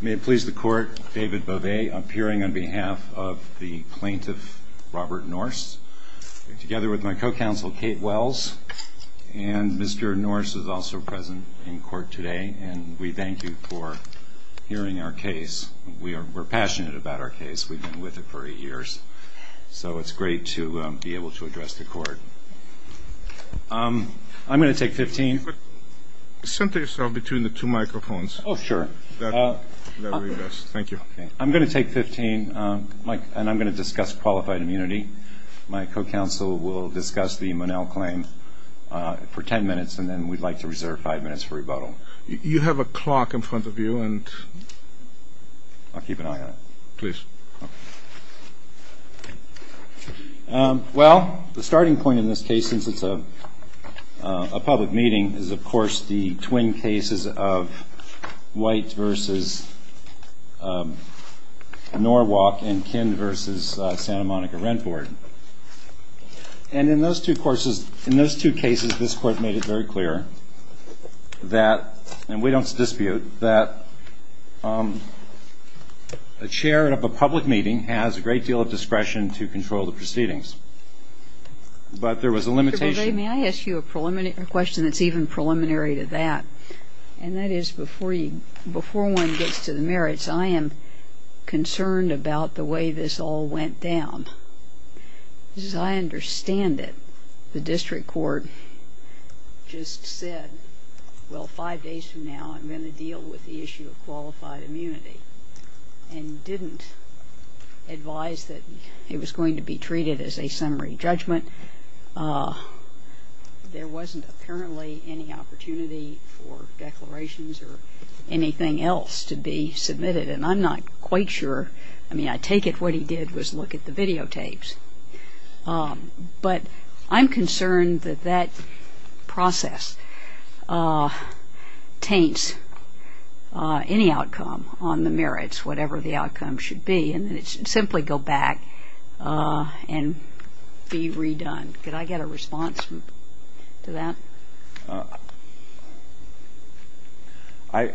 May it please the court David Bovet appearing on behalf of the plaintiff Robert Norse together with my co-counsel Kate Wells and Mr. Norse is also present in court today and we thank you for hearing our case. We are passionate about our case we've been with it for eight years so it's great to be able to address the court. I'm gonna take 15. Center yourself between the two I'm going to take 15 and I'm going to discuss qualified immunity. My co-counsel will discuss the Monell claim for 10 minutes and then we'd like to reserve five minutes for rebuttal. You have a clock in front of you and I'll keep an eye on it. Please. Well the starting point in this case since it's a public meeting is of course the twin cases of White versus Norwalk and Kinn versus Santa Monica Rent Board and in those two courses in those two cases this court made it very clear that and we don't dispute that a chair of a public meeting has a great deal of discretion to control the proceedings but there was a limitation. May I ask you a preliminary question that's even preliminary to that and that is before you before one gets to the merits I am concerned about the way this all went down. I understand it the district court just said well five days from now I'm going to deal with the issue of summary judgment. There wasn't apparently any opportunity for declarations or anything else to be submitted and I'm not quite sure I mean I take it what he did was look at the videotapes but I'm concerned that that process taints any outcome on the merits whatever the outcome should be and it simply go back and be redone. Did I get a response to that? I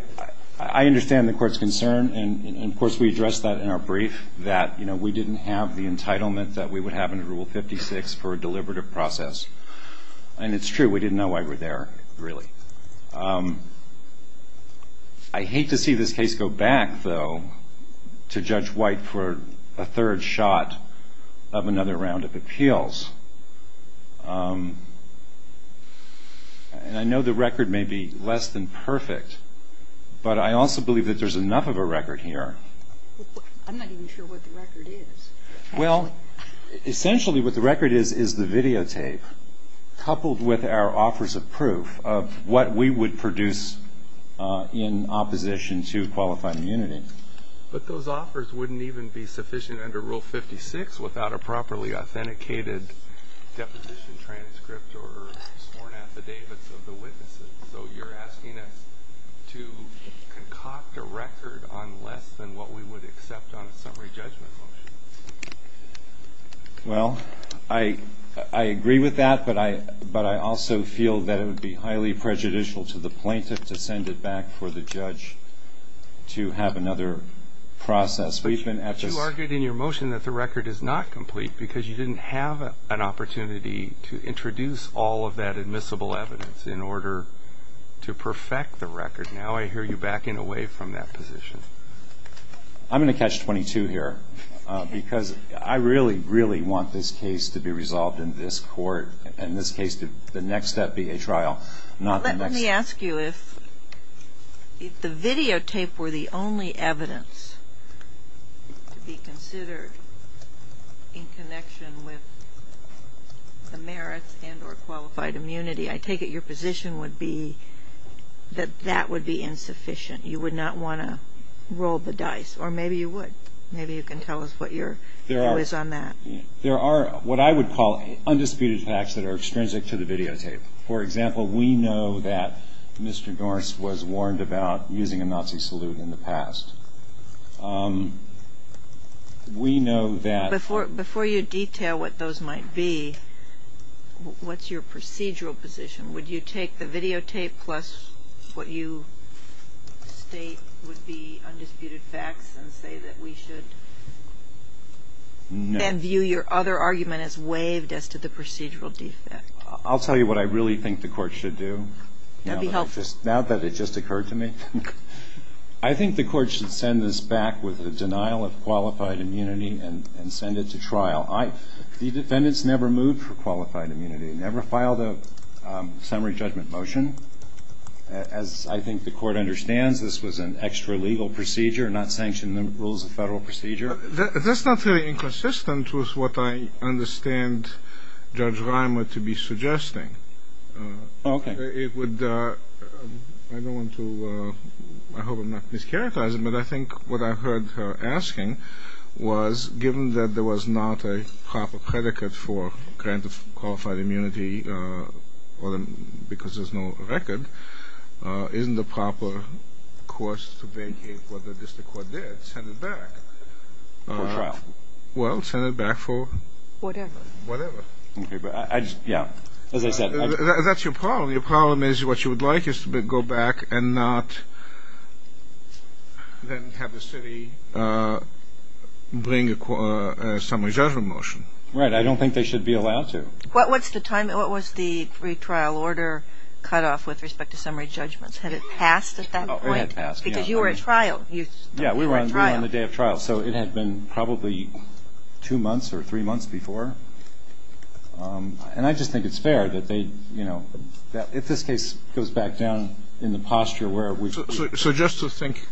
understand the court's concern and of course we addressed that in our brief that you know we didn't have the entitlement that we would have in rule 56 for a deliberative process and it's true we didn't know why we're there really. I believe there's a third shot of another round of appeals and I know the record may be less than perfect but I also believe that there's enough of a record here. I'm not even sure what the record is. Well essentially what the record is is the videotape coupled with our offers of proof of what we would produce in opposition to qualified immunity. But those offers wouldn't even be sufficient under rule 56 without a properly authenticated deposition transcript or sworn affidavits of the witnesses so you're asking us to concoct a record on less than what we would accept on a summary judgment motion. Well I I agree with that but I but I also feel that it would be highly prejudicial to the plaintiff to send it back for the judge to have another process. But you argued in your motion that the record is not complete because you didn't have an opportunity to introduce all of that admissible evidence in order to perfect the record. Now I hear you backing away from that position. I'm going to catch 22 here because I really really want this case to be resolved in this court and in this case the next step be a trial. Let me ask you if the videotape were the only evidence to be considered in connection with the merits and or qualified immunity I take it your position would be that that would be insufficient. You would not want to roll the dice or maybe you would. Maybe you can tell us what your view is on that. There are what I would call undisputed facts that are extrinsic to the videotape. For example we know that Mr. Norris was warned about using a Nazi salute in the past. We know that. Before you detail what those might be what's your procedural position? Would you take the videotape plus what you state would be undisputed facts and say that we should then view your other argument as waived as to the procedural defect? I'll tell you what I really think the court should do. That would be helpful. Now that it just occurred to me. I think the court should send this back with a denial of qualified immunity and send it to trial. The defendants never moved for qualified immunity. Never filed a summary judgment motion. As I think the court understands this was an extra legal procedure, not sanctioned rules of Federal procedure. That's not very inconsistent with what I understand Judge Reimer to be suggesting. I hope I'm not mischaracterizing but I think what I heard her asking was given that there was not a proper predicate for grant of qualified immunity because there's no record, isn't the proper course to vacate what the district court did, send it back? Well, send it back for whatever. That's your problem. Your problem is what you would like is to go back and not then have the city bring a summary judgment motion. Right, I don't think they should be allowed to. What was the time, what was the retrial order cut off with respect to summary judgments? Had it passed at that point? Because you were at trial. Yeah, we were on the day of trial. So it had been probably two months or three months before. And I just think it's fair that they, you know, if this case goes back down in the posture where it would be. So just to think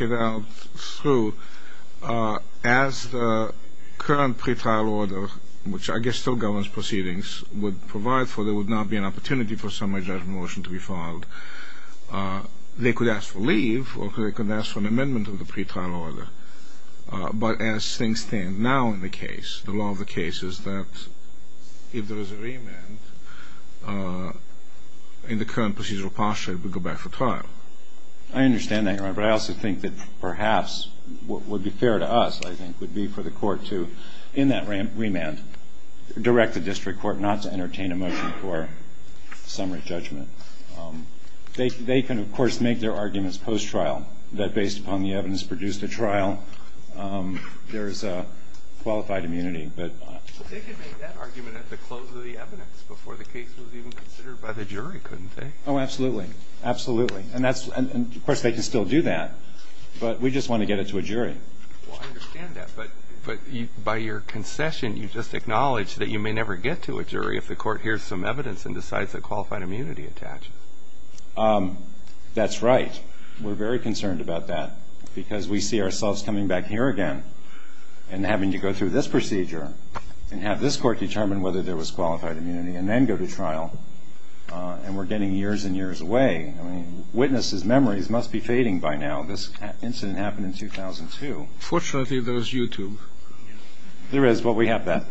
it out through, as the current pretrial order, which I guess still governs proceedings, would provide for, there would not be an opportunity for a summary judgment motion to be filed. They could ask for leave or they could ask for an amendment of the pretrial order. But as things stand now in the case, the law of the case is that if there is a remand in the current procedural posture, it would go back for trial. I understand that, Your Honor. But I also think that perhaps what would be fair to us, I think, would be for the court to, in that remand, direct the district court not to entertain a motion for summary judgment. They can, of course, make their arguments post-trial that based upon the evidence produced at trial, there is qualified immunity. But they could make that argument at the close of the evidence before the case was even considered by the jury, couldn't they? Oh, absolutely. Absolutely. And, of course, they can still do that. But we just want to get it to a jury. Well, I understand that. But by your concession, you just acknowledge that you may never get to a jury if the court hears some evidence and decides that qualified immunity attaches. That's right. We're very concerned about that because we see ourselves coming back here again and having to go through this procedure and have this court determine whether there was qualified immunity and then go to trial. And we're getting years and years away. I mean, witnesses' memories must be fading by now. This incident happened in 2002. Fortunately, there is YouTube. There is, but we have that.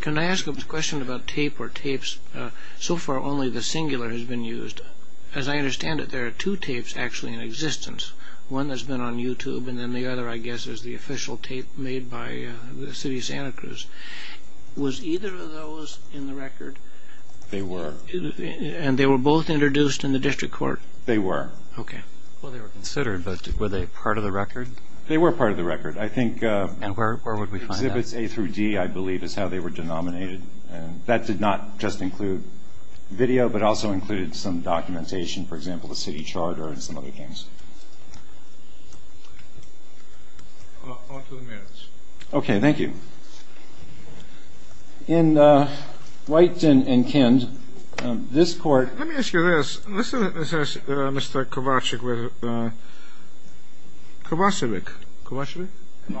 Can I ask a question about tape or tapes? So far, only the singular has been used. As I understand it, there are two tapes actually in existence, one that's been on YouTube and then the other, I guess, is the official tape made by the city of Santa Cruz. Was either of those in the record? They were. And they were both introduced in the district court? They were. Okay. Well, they were considered, but were they part of the record? They were part of the record. And where would we find that? Exhibits A through D, I believe, is how they were denominated. That did not just include video, but also included some documentation, for example, the city charter and some other things. On to the merits. Okay. Thank you. In White and Kind, this court- Let me ask you this. Mr. Kovacevic, Kovacevic? Kovacevic, thank you.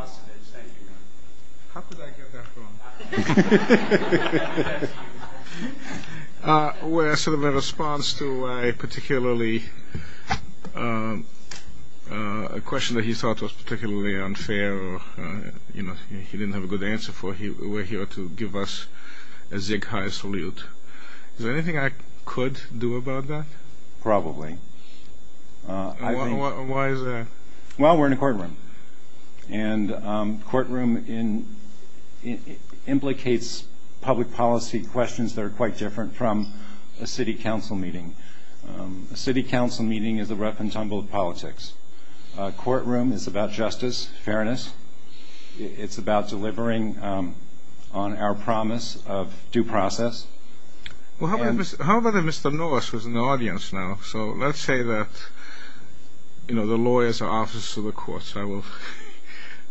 How did I get that wrong? We're sort of in response to a particularly-a question that he thought was particularly unfair or, you know, he didn't have a good answer for. We're here to give us a zig-hai salute. Is there anything I could do about that? Probably. Why is that? Well, we're in a courtroom. And courtroom implicates public policy questions that are quite different from a city council meeting. A city council meeting is a rough and tumble of politics. A courtroom is about justice, fairness. It's about delivering on our promise of due process. How about if Mr. Norris was in the audience now? So let's say that, you know, the lawyers are officers of the courts. I will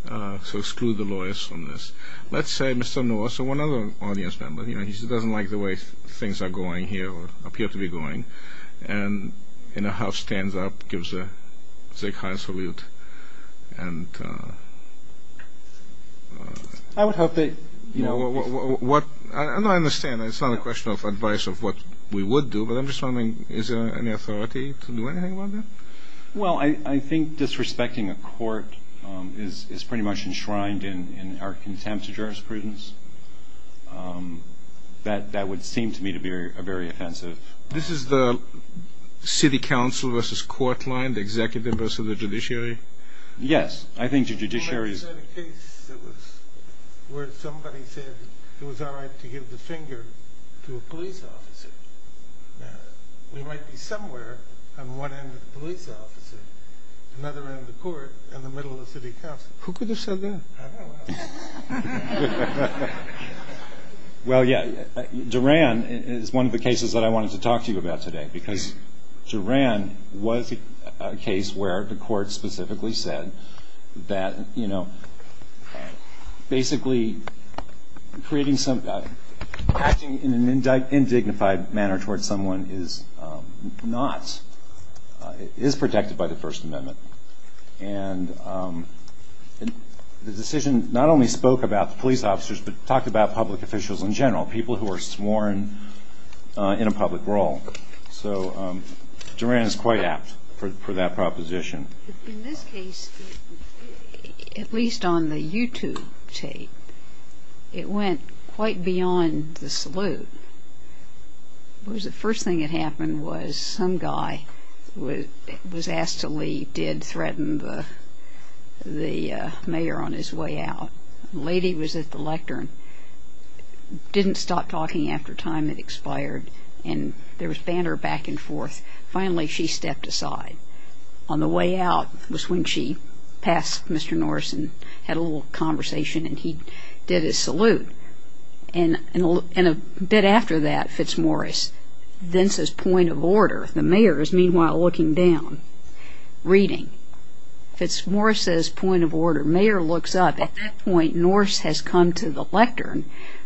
sort of exclude the lawyers from this. Let's say Mr. Norris or one other audience member, you know, he doesn't like the way things are going here or appear to be going, and in a house stands up, gives a zig-hai salute, and- I would hope that, you know- No, I understand. It's not a question of advice of what we would do, but I'm just wondering, is there any authority to do anything about that? Well, I think disrespecting a court is pretty much enshrined in our contempt of jurisprudence. That would seem to me to be a very offensive- This is the city council versus court line, the executive versus the judiciary? Yes, I think the judiciary- You said a case where somebody said it was all right to give the finger to a police officer. Now, we might be somewhere on one end of the police officer, another end of the court, and the middle of the city council. Who could have said that? I don't know. Well, yeah, Duran is one of the cases that I wanted to talk to you about today, because Duran was a case where the court specifically said that, you know, basically creating some- acting in an indignified manner towards someone is not- is protected by the First Amendment, and the decision not only spoke about the police officers, but talked about public officials in general, people who are sworn in a public role. So Duran is quite apt for that proposition. In this case, at least on the YouTube tape, it went quite beyond the salute. The first thing that happened was some guy was asked to leave, did threaten the mayor on his way out. The lady was at the lectern, didn't stop talking after time had expired, and there was banter back and forth. Finally, she stepped aside. On the way out was when she passed Mr. Norris and had a little conversation, and he did his salute. And a bit after that, Fitzmorris then says, point of order. The mayor is meanwhile looking down, reading. Fitzmorris says, point of order. Mayor looks up. At that point, Norris has come to the lectern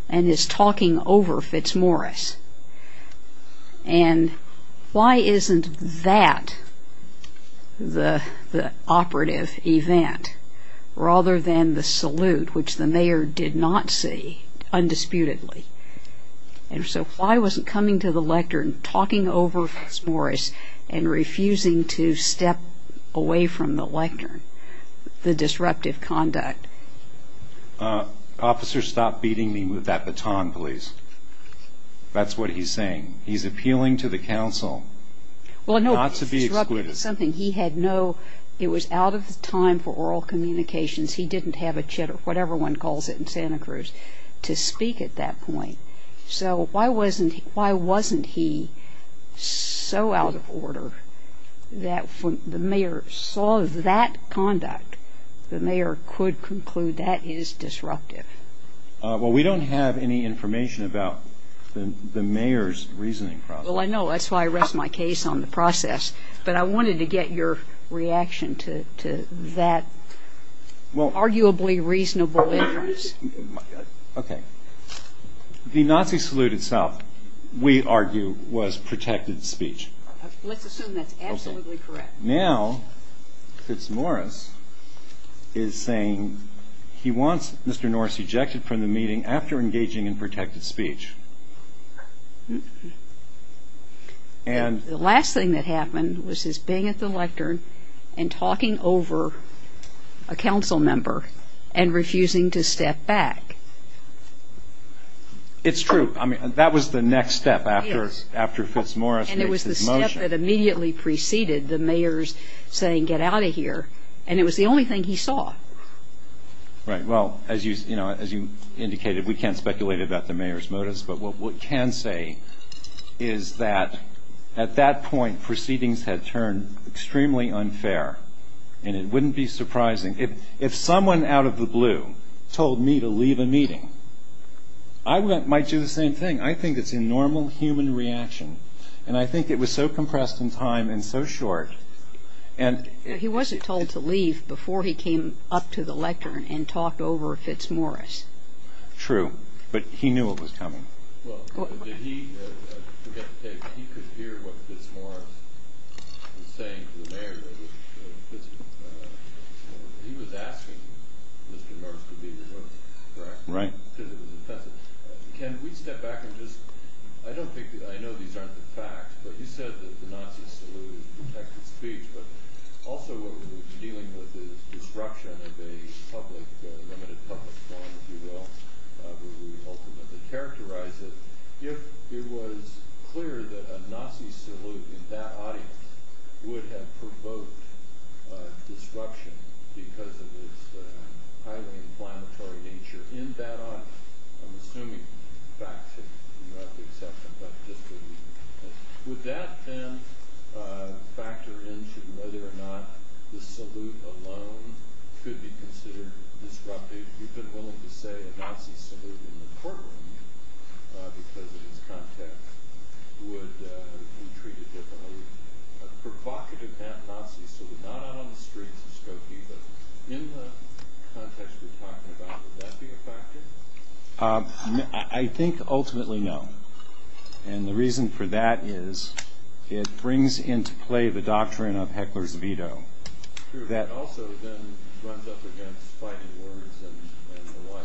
and is talking over Fitzmorris. And why isn't that the operative event rather than the salute, which the mayor did not see undisputedly? And so why wasn't coming to the lectern, talking over Fitzmorris, and refusing to step away from the lectern, the disruptive conduct? Officer, stop beating me with that baton, please. That's what he's saying. He's appealing to the council not to be excluded. It was out of time for oral communications. He didn't have a chit or whatever one calls it in Santa Cruz to speak at that point. So why wasn't he so out of order that when the mayor saw that conduct, the mayor could conclude that is disruptive? Well, we don't have any information about the mayor's reasoning process. Well, I know. That's why I rest my case on the process. But I wanted to get your reaction to that arguably reasonable inference. Okay. The Nazi salute itself, we argue, was protected speech. Let's assume that's absolutely correct. Now Fitzmorris is saying he wants Mr. Norris ejected from the meeting after engaging in protected speech. The last thing that happened was his being at the lectern and talking over a council member and refusing to step back. It's true. I mean, that was the next step after Fitzmorris made his motion. And it was the step that immediately preceded the mayor's saying get out of here. And it was the only thing he saw. Right. Well, as you indicated, we can't speculate about the mayor's motives. But what we can say is that at that point proceedings had turned extremely unfair. And it wouldn't be surprising if someone out of the blue told me to leave a meeting, I might do the same thing. I think it's a normal human reaction. And I think it was so compressed in time and so short. He wasn't told to leave before he came up to the lectern and talked over Fitzmorris. True. But he knew it was coming. Well, did he, I forget to tell you, but he could hear what Fitzmorris was saying to the mayor. He was asking Mr. Norris to be removed, correct? Right. Because it was offensive. Can we step back and just, I don't think, I know these aren't the facts, but you said that the Nazi salute is protected speech. But also what we're dealing with is disruption of a public, limited public forum, if you will, where we ultimately characterize it. If it was clear that a Nazi salute in that audience would have provoked disruption because of its highly inflammatory nature in that audience, I'm assuming facts have been brought to the acceptance, but just for the record. Would that then factor into whether or not the salute alone could be considered disruptive? You've been willing to say a Nazi salute in the courtroom, because of its context, would be treated differently. A provocative Nazi salute, not out on the streets of Skokie, but in the context we're talking about, would that be a factor? I think ultimately no. And the reason for that is it brings into play the doctrine of heckler's veto. That also then runs up against fighting words and the like.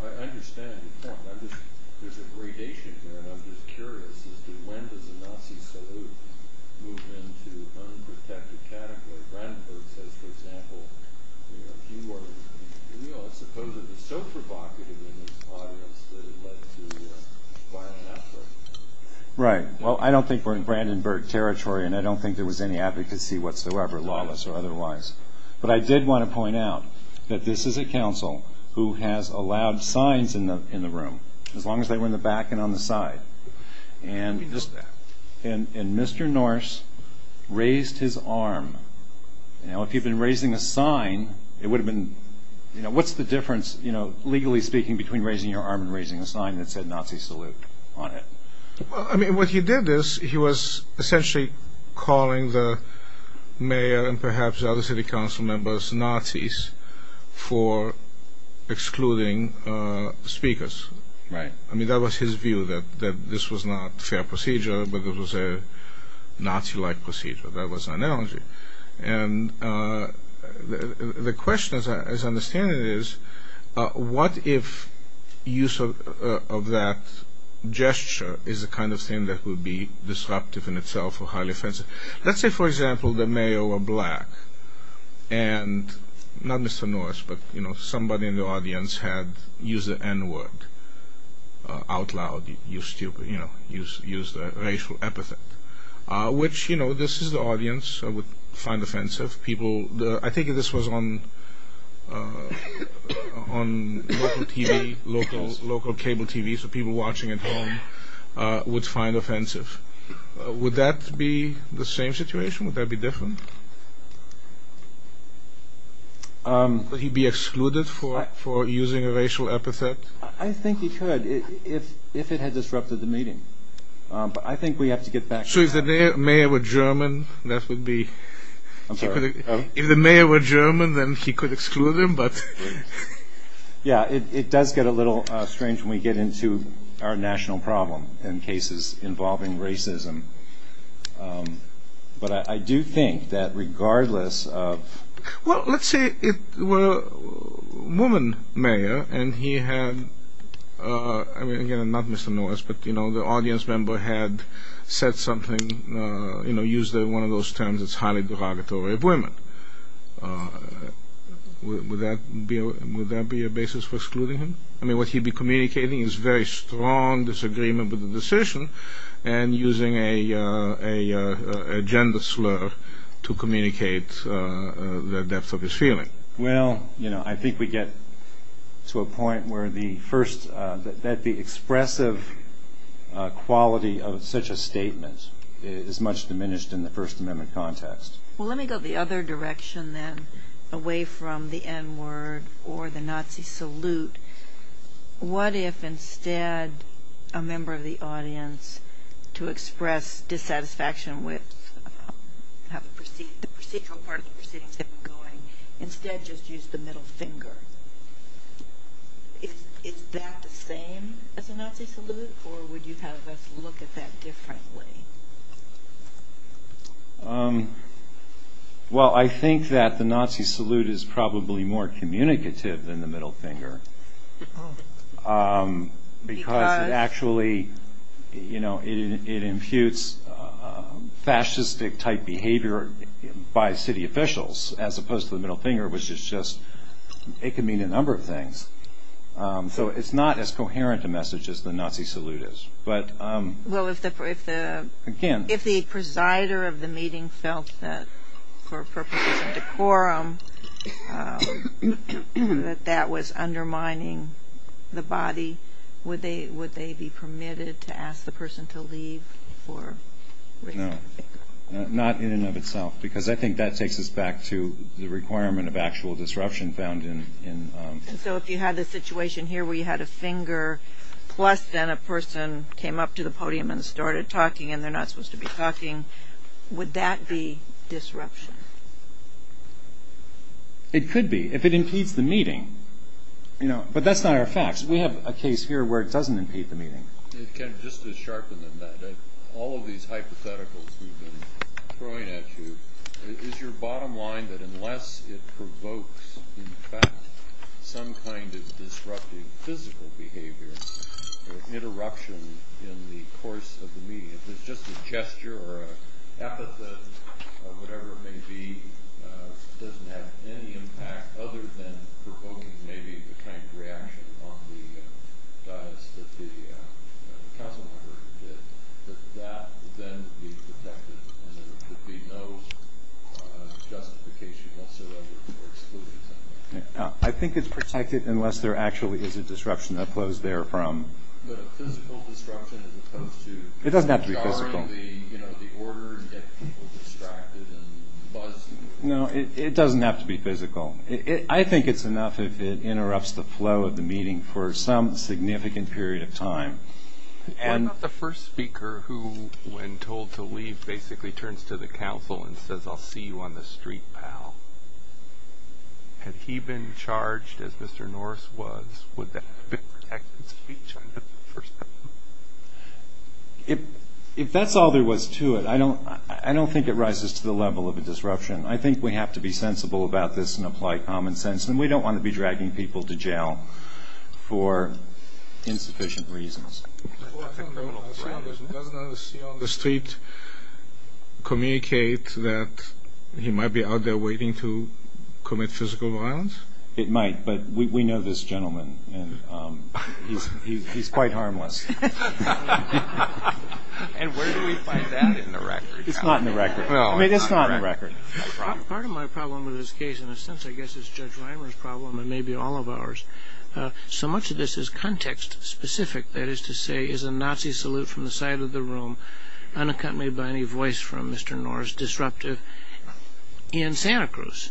I understand your point. There's a gradation here, and I'm just curious as to when does a Nazi salute move into unprotected category. For example, suppose it was so provocative in this audience that it led to a violent outburst. Right. Well, I don't think we're in Brandenburg territory, and I don't think there was any advocacy whatsoever, lawless or otherwise. But I did want to point out that this is a counsel who has allowed signs in the room, as long as they were in the back and on the side. And Mr. Norris raised his arm. Now, if you'd been raising a sign, what's the difference, legally speaking, between raising your arm and raising a sign that said Nazi salute on it? I mean, what he did is he was essentially calling the mayor and perhaps other city council members Nazis for excluding speakers. Right. I mean, that was his view, that this was not a fair procedure, but it was a Nazi-like procedure. That was an analogy. And the question, as I understand it, is what if use of that gesture is the kind of thing that would be disruptive in itself or highly offensive? Let's say, for example, the mayor were black, and not Mr. Norris, but somebody in the audience had used the N-word out loud, used the racial epithet, which, you know, this is the audience would find offensive. I think this was on local cable TV, so people watching at home would find offensive. Would that be the same situation? Would that be different? Would he be excluded for using a racial epithet? I think he could if it had disrupted the meeting. But I think we have to get back to that. So if the mayor were German, that would be? I'm sorry? If the mayor were German, then he could exclude him, but? Yeah, it does get a little strange when we get into our national problem in cases involving racism. But I do think that regardless of? Well, let's say it were a woman mayor, and he had, again, not Mr. Norris, but, you know, the audience member had said something, you know, used one of those terms that's highly derogatory, of women. Would that be a basis for excluding him? I mean, would he be communicating his very strong disagreement with the decision and using a gender slur to communicate the depth of his feeling? Well, you know, I think we get to a point where the first, that the expressive quality of such a statement is much diminished in the First Amendment context. Well, let me go the other direction then, away from the N-word or the Nazi salute. What if instead a member of the audience, to express dissatisfaction with how the procedural part of the proceeding is going, instead just used the middle finger? Is that the same as the Nazi salute, or would you have us look at that differently? Well, I think that the Nazi salute is probably more communicative than the middle finger. Because? Because it actually, you know, it imputes fascistic type behavior by city officials, as opposed to the middle finger, which is just, it can mean a number of things. So it's not as coherent a message as the Nazi salute is. Well, if the presider of the meeting felt that for purposes of decorum, that that was undermining the body, would they be permitted to ask the person to leave? No, not in and of itself. Because I think that takes us back to the requirement of actual disruption found in... So if you had a situation here where you had a finger, plus then a person came up to the podium and started talking and they're not supposed to be talking, would that be disruption? It could be, if it impedes the meeting. But that's not our facts. We have a case here where it doesn't impede the meeting. Just to sharpen the net, all of these hypotheticals we've been throwing at you, is your bottom line that unless it provokes, in fact, some kind of disruptive physical behavior, or interruption in the course of the meeting, if it's just a gesture or an epithet or whatever it may be, doesn't have any impact other than provoking maybe the kind of reaction on the dias that the council member did, that that then would be protected and there would be no justification whatsoever for excluding them. I think it's protected unless there actually is a disruption that flows there from... But a physical disruption as opposed to... It doesn't have to be physical. Barring the order and getting people distracted and buzzing. No, it doesn't have to be physical. I think it's enough if it interrupts the flow of the meeting for some significant period of time. What about the first speaker who, when told to leave, basically turns to the council and says, I'll see you on the street, pal? Had he been charged as Mr. Norris was, would that have been protected speech under the first one? If that's all there was to it, I don't think it rises to the level of a disruption. I think we have to be sensible about this and apply common sense, and we don't want to be dragging people to jail for insufficient reasons. Doesn't a see on the street communicate that he might be out there waiting to commit physical violence? It might, but we know this gentleman, and he's quite harmless. And where do we find that in the record? It's not in the record. I mean, it's not in the record. Part of my problem with this case, in a sense, I guess, is Judge Reimer's problem, and maybe all of ours. So much of this is context-specific. That is to say, is a Nazi salute from the side of the room, unaccompanied by any voice from Mr. Norris, disruptive? In Santa Cruz,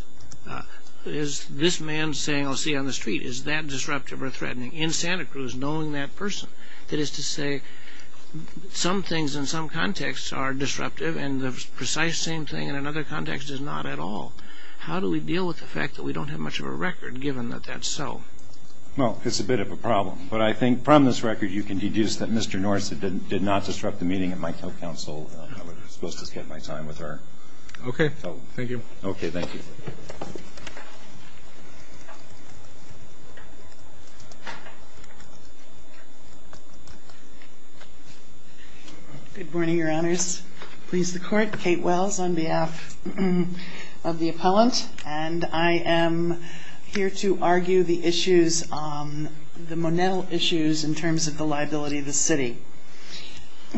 is this man saying, I'll see you on the street, is that disruptive or threatening? In Santa Cruz, knowing that person. That is to say, some things in some contexts are disruptive and the precise same thing in another context is not at all. How do we deal with the fact that we don't have much of a record, given that that's so? Well, it's a bit of a problem. But I think from this record you can deduce that Mr. Norris did not disrupt the meeting at Mike Hill Council. I was supposed to spend my time with her. Okay, thank you. Okay, thank you. Good morning, Your Honors. Please, the Court. Kate Wells, on behalf of the appellant, and I am here to argue the issues, the Monell issues, in terms of the liability of the city.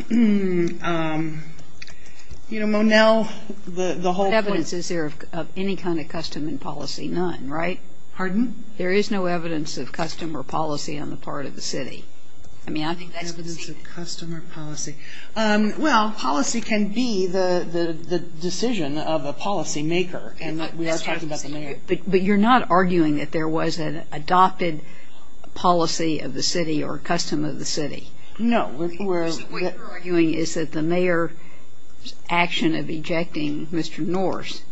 You know, Monell, the whole point. What evidence is there of any kind of custom and policy? None, right? Pardon? There is no evidence of custom or policy on the part of the city. Evidence of custom or policy. Well, policy can be the decision of a policymaker, and we are talking about the mayor. But you're not arguing that there was an adopted policy of the city or custom of the city? No. What you're arguing is that the mayor's action of ejecting Mr. Norris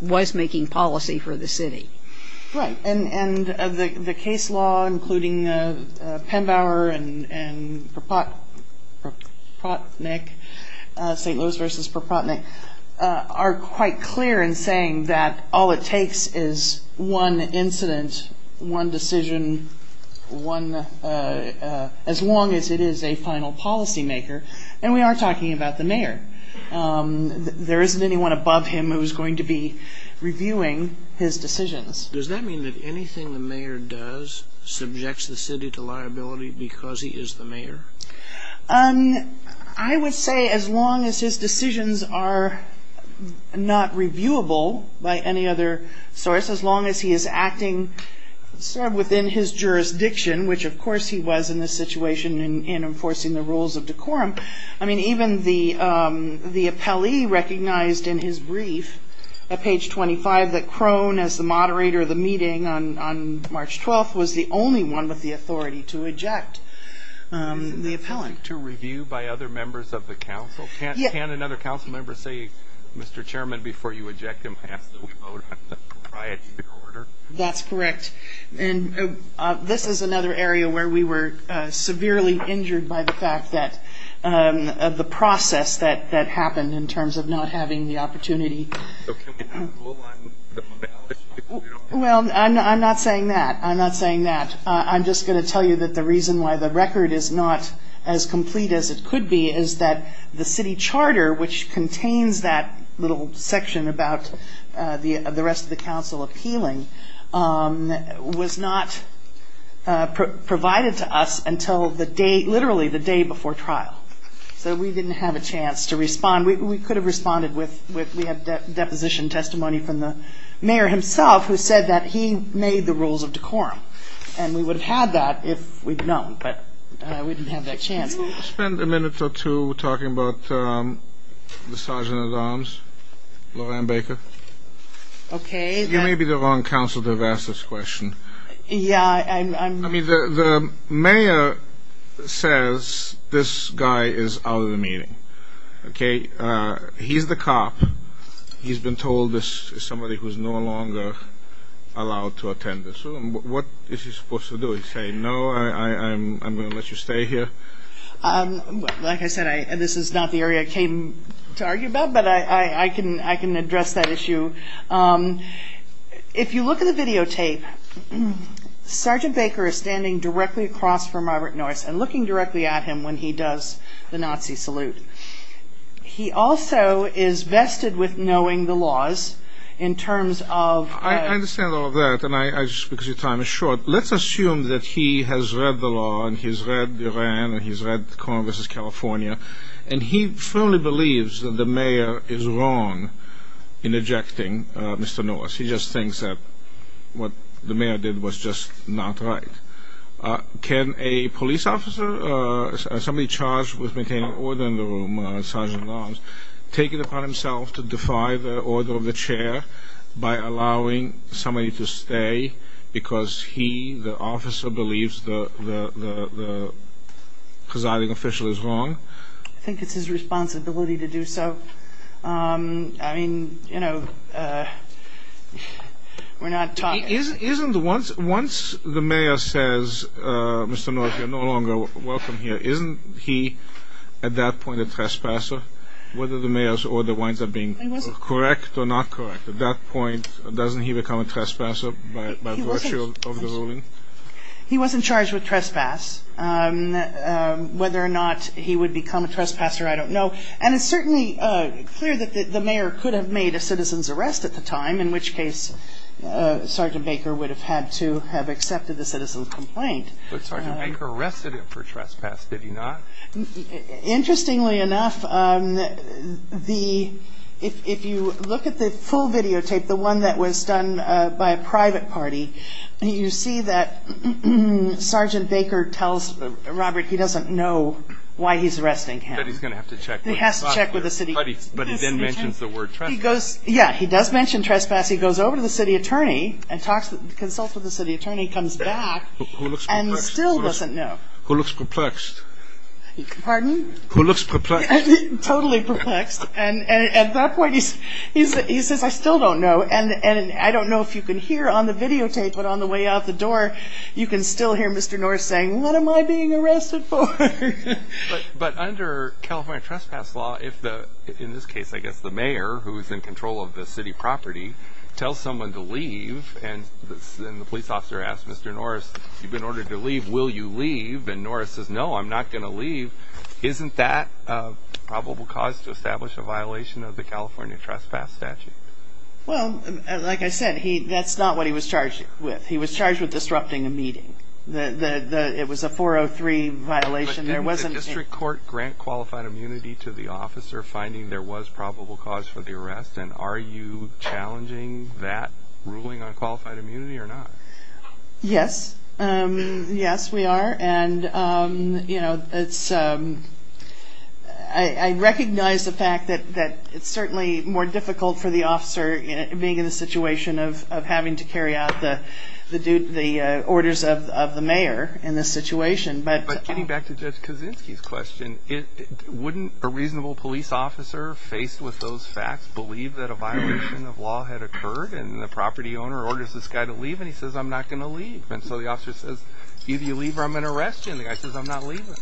was making policy for the city. Right. And the case law, including Penbower and Propotnik, St. Louis v. Propotnik, are quite clear in saying that all it takes is one incident, one decision, as long as it is a final policymaker, and we are talking about the mayor. There isn't anyone above him who is going to be reviewing his decisions. Does that mean that anything the mayor does subjects the city to liability because he is the mayor? I would say as long as his decisions are not reviewable by any other source, as long as he is acting sort of within his jurisdiction, which of course he was in this situation in enforcing the rules of decorum. I mean, even the appellee recognized in his brief at page 25 that Crone, as the moderator of the meeting on March 12th, was the only one with the authority to eject the appellant. To review by other members of the council? Yes. Can another council member say, Mr. Chairman, before you eject him, ask that we vote on the proprietary order? That's correct. This is another area where we were severely injured by the fact that the process that happened in terms of not having the opportunity. So can we have a rule on the balance? Well, I'm not saying that. I'm not saying that. I'm just going to tell you that the reason why the record is not as complete as it could be is that the city charter, which contains that little section about the rest of the council appealing, was not provided to us until literally the day before trial. So we didn't have a chance to respond. We could have responded. We had deposition testimony from the mayor himself, who said that he made the rules of decorum. And we would have had that if we'd known, but we didn't have that chance. We'll spend a minute or two talking about the Sergeant-at-Arms, Lorraine Baker. Okay. You may be the wrong council to have asked this question. Yeah. I mean, the mayor says this guy is out of the meeting. Okay? He's the cop. He's been told this is somebody who's no longer allowed to attend this room. What is he supposed to do? He say, no, I'm going to let you stay here? Like I said, this is not the area I came to argue about, but I can address that issue. If you look at the videotape, Sergeant Baker is standing directly across from Robert Norris and looking directly at him when he does the Nazi salute. He also is vested with knowing the laws in terms of I understand all of that, because your time is short. But let's assume that he has read the law and he's read Iran and he's read Congress' California, and he firmly believes that the mayor is wrong in ejecting Mr. Norris. He just thinks that what the mayor did was just not right. Can a police officer, somebody charged with maintaining order in the room, Sergeant-at-Arms, take it upon himself to defy the order of the chair by allowing somebody to stay because he, the officer, believes the presiding official is wrong? I think it's his responsibility to do so. I mean, you know, we're not talking. Once the mayor says, Mr. Norris, you're no longer welcome here, isn't he at that point a trespasser, whether the mayor's order winds up being correct or not correct? At that point, doesn't he become a trespasser by virtue of the ruling? He wasn't charged with trespass. Whether or not he would become a trespasser, I don't know. And it's certainly clear that the mayor could have made a citizen's arrest at the time, in which case Sergeant Baker would have had to have accepted the citizen's complaint. But Sergeant Baker arrested him for trespass, did he not? Interestingly enough, if you look at the full videotape, the one that was done by a private party, you see that Sergeant Baker tells Robert he doesn't know why he's arresting him. But he's going to have to check with the city. But he then mentions the word trespass. Yeah, he does mention trespass. He goes over to the city attorney and consults with the city attorney, comes back, and still doesn't know. Who looks perplexed. Pardon? Who looks perplexed. Totally perplexed. And at that point, he says, I still don't know. And I don't know if you can hear on the videotape, but on the way out the door, you can still hear Mr. Norris saying, what am I being arrested for? But under California trespass law, if, in this case, I guess the mayor, who is in control of the city property, tells someone to leave, and the police officer asks Mr. Norris, you've been ordered to leave, will you leave? And Norris says, no, I'm not going to leave. Isn't that a probable cause to establish a violation of the California trespass statute? Well, like I said, that's not what he was charged with. He was charged with disrupting a meeting. It was a 403 violation. Didn't the district court grant qualified immunity to the officer, finding there was probable cause for the arrest? And are you challenging that ruling on qualified immunity or not? Yes. Yes, we are. And, you know, I recognize the fact that it's certainly more difficult for the officer, being in a situation of having to carry out the orders of the mayor in this situation. But getting back to Judge Kaczynski's question, wouldn't a reasonable police officer, faced with those facts, believe that a violation of law had occurred? And the property owner orders this guy to leave, and he says, I'm not going to leave. And so the officer says, either you leave or I'm going to arrest you. And the guy says, I'm not leaving.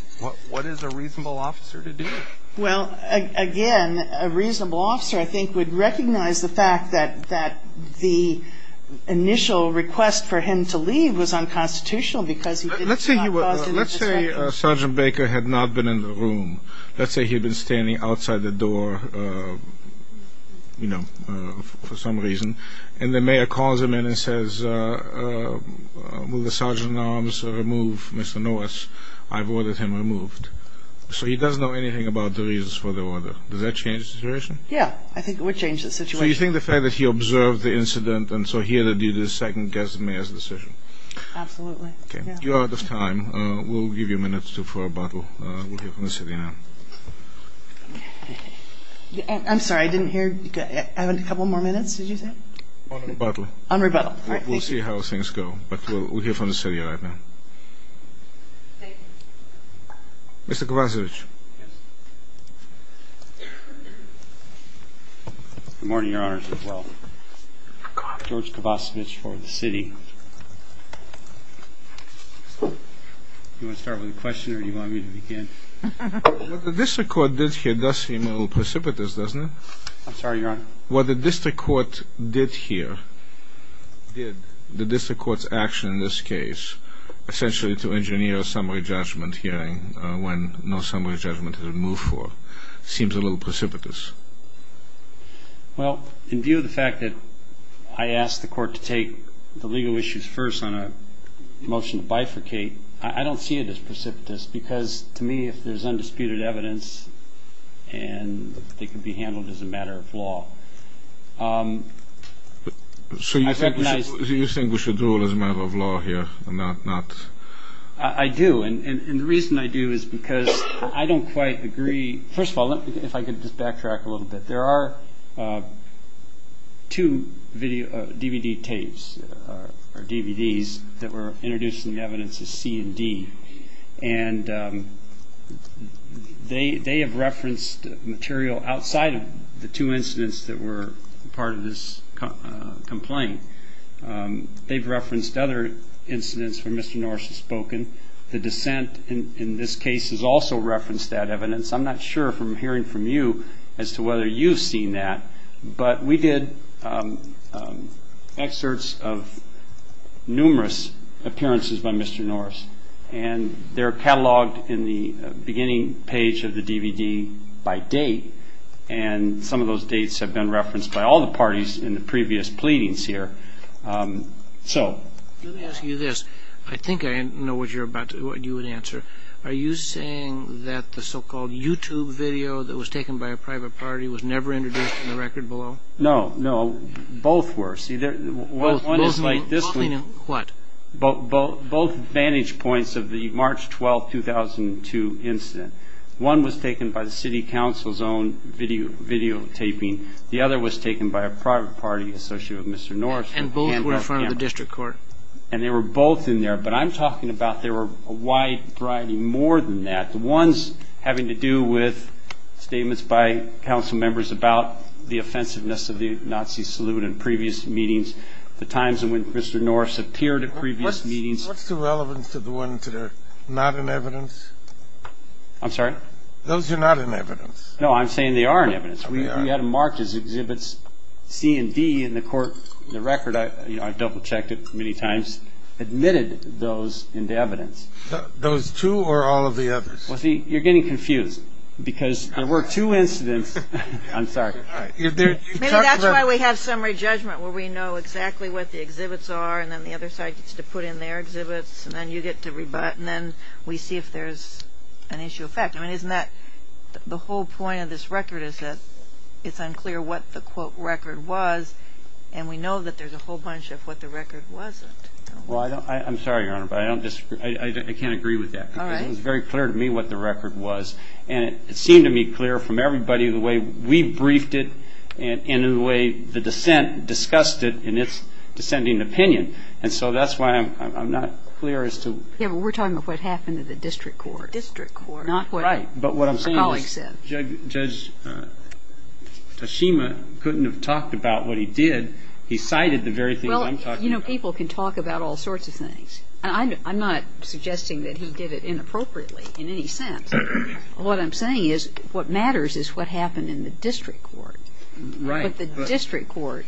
What is a reasonable officer to do? Well, again, a reasonable officer, I think, would recognize the fact that the initial request for him to leave was unconstitutional because he did not cause any disruption. Let's say Sergeant Baker had not been in the room. Let's say he had been standing outside the door, you know, for some reason, and the mayor calls him in and says, will the sergeant at arms remove Mr. Norris? I've ordered him removed. So he doesn't know anything about the reasons for the order. Does that change the situation? Yeah, I think it would change the situation. So you think the fact that he observed the incident, and so he had to do this second guess at the mayor's decision? Absolutely. You are out of time. We'll give you a minute for rebuttal. We'll hear from the city now. I'm sorry, I didn't hear. I have a couple more minutes, did you say? On rebuttal. On rebuttal. All right, thank you. We'll see how things go, but we'll hear from the city right now. Thank you. Mr. Kovacevic. Good morning, Your Honors, as well. George Kovacevic for the city. Do you want to start with a question or do you want me to begin? What the district court did here does seem a little precipitous, doesn't it? I'm sorry, Your Honor. What the district court did here, did the district court's action in this case, essentially to engineer a summary judgment hearing when no summary judgment has been moved for, seems a little precipitous. Well, in view of the fact that I asked the court to take the legal action on legal issues first on a motion to bifurcate, I don't see it as precipitous because, to me, if there's undisputed evidence and they could be handled as a matter of law. So you think we should rule as a matter of law here and not? I do, and the reason I do is because I don't quite agree. First of all, if I could just backtrack a little bit. There are two DVD tapes or DVDs that were introduced in the evidence as C and D, and they have referenced material outside of the two incidents that were part of this complaint. They've referenced other incidents where Mr. Norris has spoken. The dissent in this case has also referenced that evidence. I'm not sure from hearing from you as to whether you've seen that, but we did excerpts of numerous appearances by Mr. Norris, and they're cataloged in the beginning page of the DVD by date, and some of those dates have been referenced by all the parties in the previous pleadings here. Let me ask you this. I think I know what you would answer. Are you saying that the so-called YouTube video that was taken by a private party was never introduced in the record below? No, no. Both were. See, one is like this one. What? Both vantage points of the March 12, 2002 incident. One was taken by the city council's own videotaping. The other was taken by a private party associated with Mr. Norris. And both were from the district court. And they were both in there. But I'm talking about there were a wide variety more than that. The ones having to do with statements by council members about the offensiveness of the Nazi salute in previous meetings, the times when Mr. Norris appeared at previous meetings. What's the relevance of the ones that are not in evidence? I'm sorry? Those are not in evidence. No, I'm saying they are in evidence. We had them marked as exhibits C and D in the court record. I've double-checked it many times. Mr. Norris admitted those into evidence. Those two or all of the others? Well, see, you're getting confused because there were two incidents. I'm sorry. Maybe that's why we have summary judgment where we know exactly what the exhibits are and then the other side gets to put in their exhibits and then you get to rebut and then we see if there's an issue of fact. I mean, isn't that the whole point of this record is that it's unclear what the quote record was and we know that there's a whole bunch of what the record wasn't. Well, I'm sorry, Your Honor, but I can't agree with that. All right. Because it was very clear to me what the record was and it seemed to me clear from everybody the way we briefed it and in the way the dissent discussed it in its dissenting opinion. And so that's why I'm not clear as to why. Yeah, but we're talking about what happened to the district court. The district court. Right. But what I'm saying is Judge Toshima couldn't have talked about what he did. He cited the very things I'm talking about. Well, you know, people can talk about all sorts of things. I'm not suggesting that he did it inappropriately in any sense. What I'm saying is what matters is what happened in the district court. Right. But the district court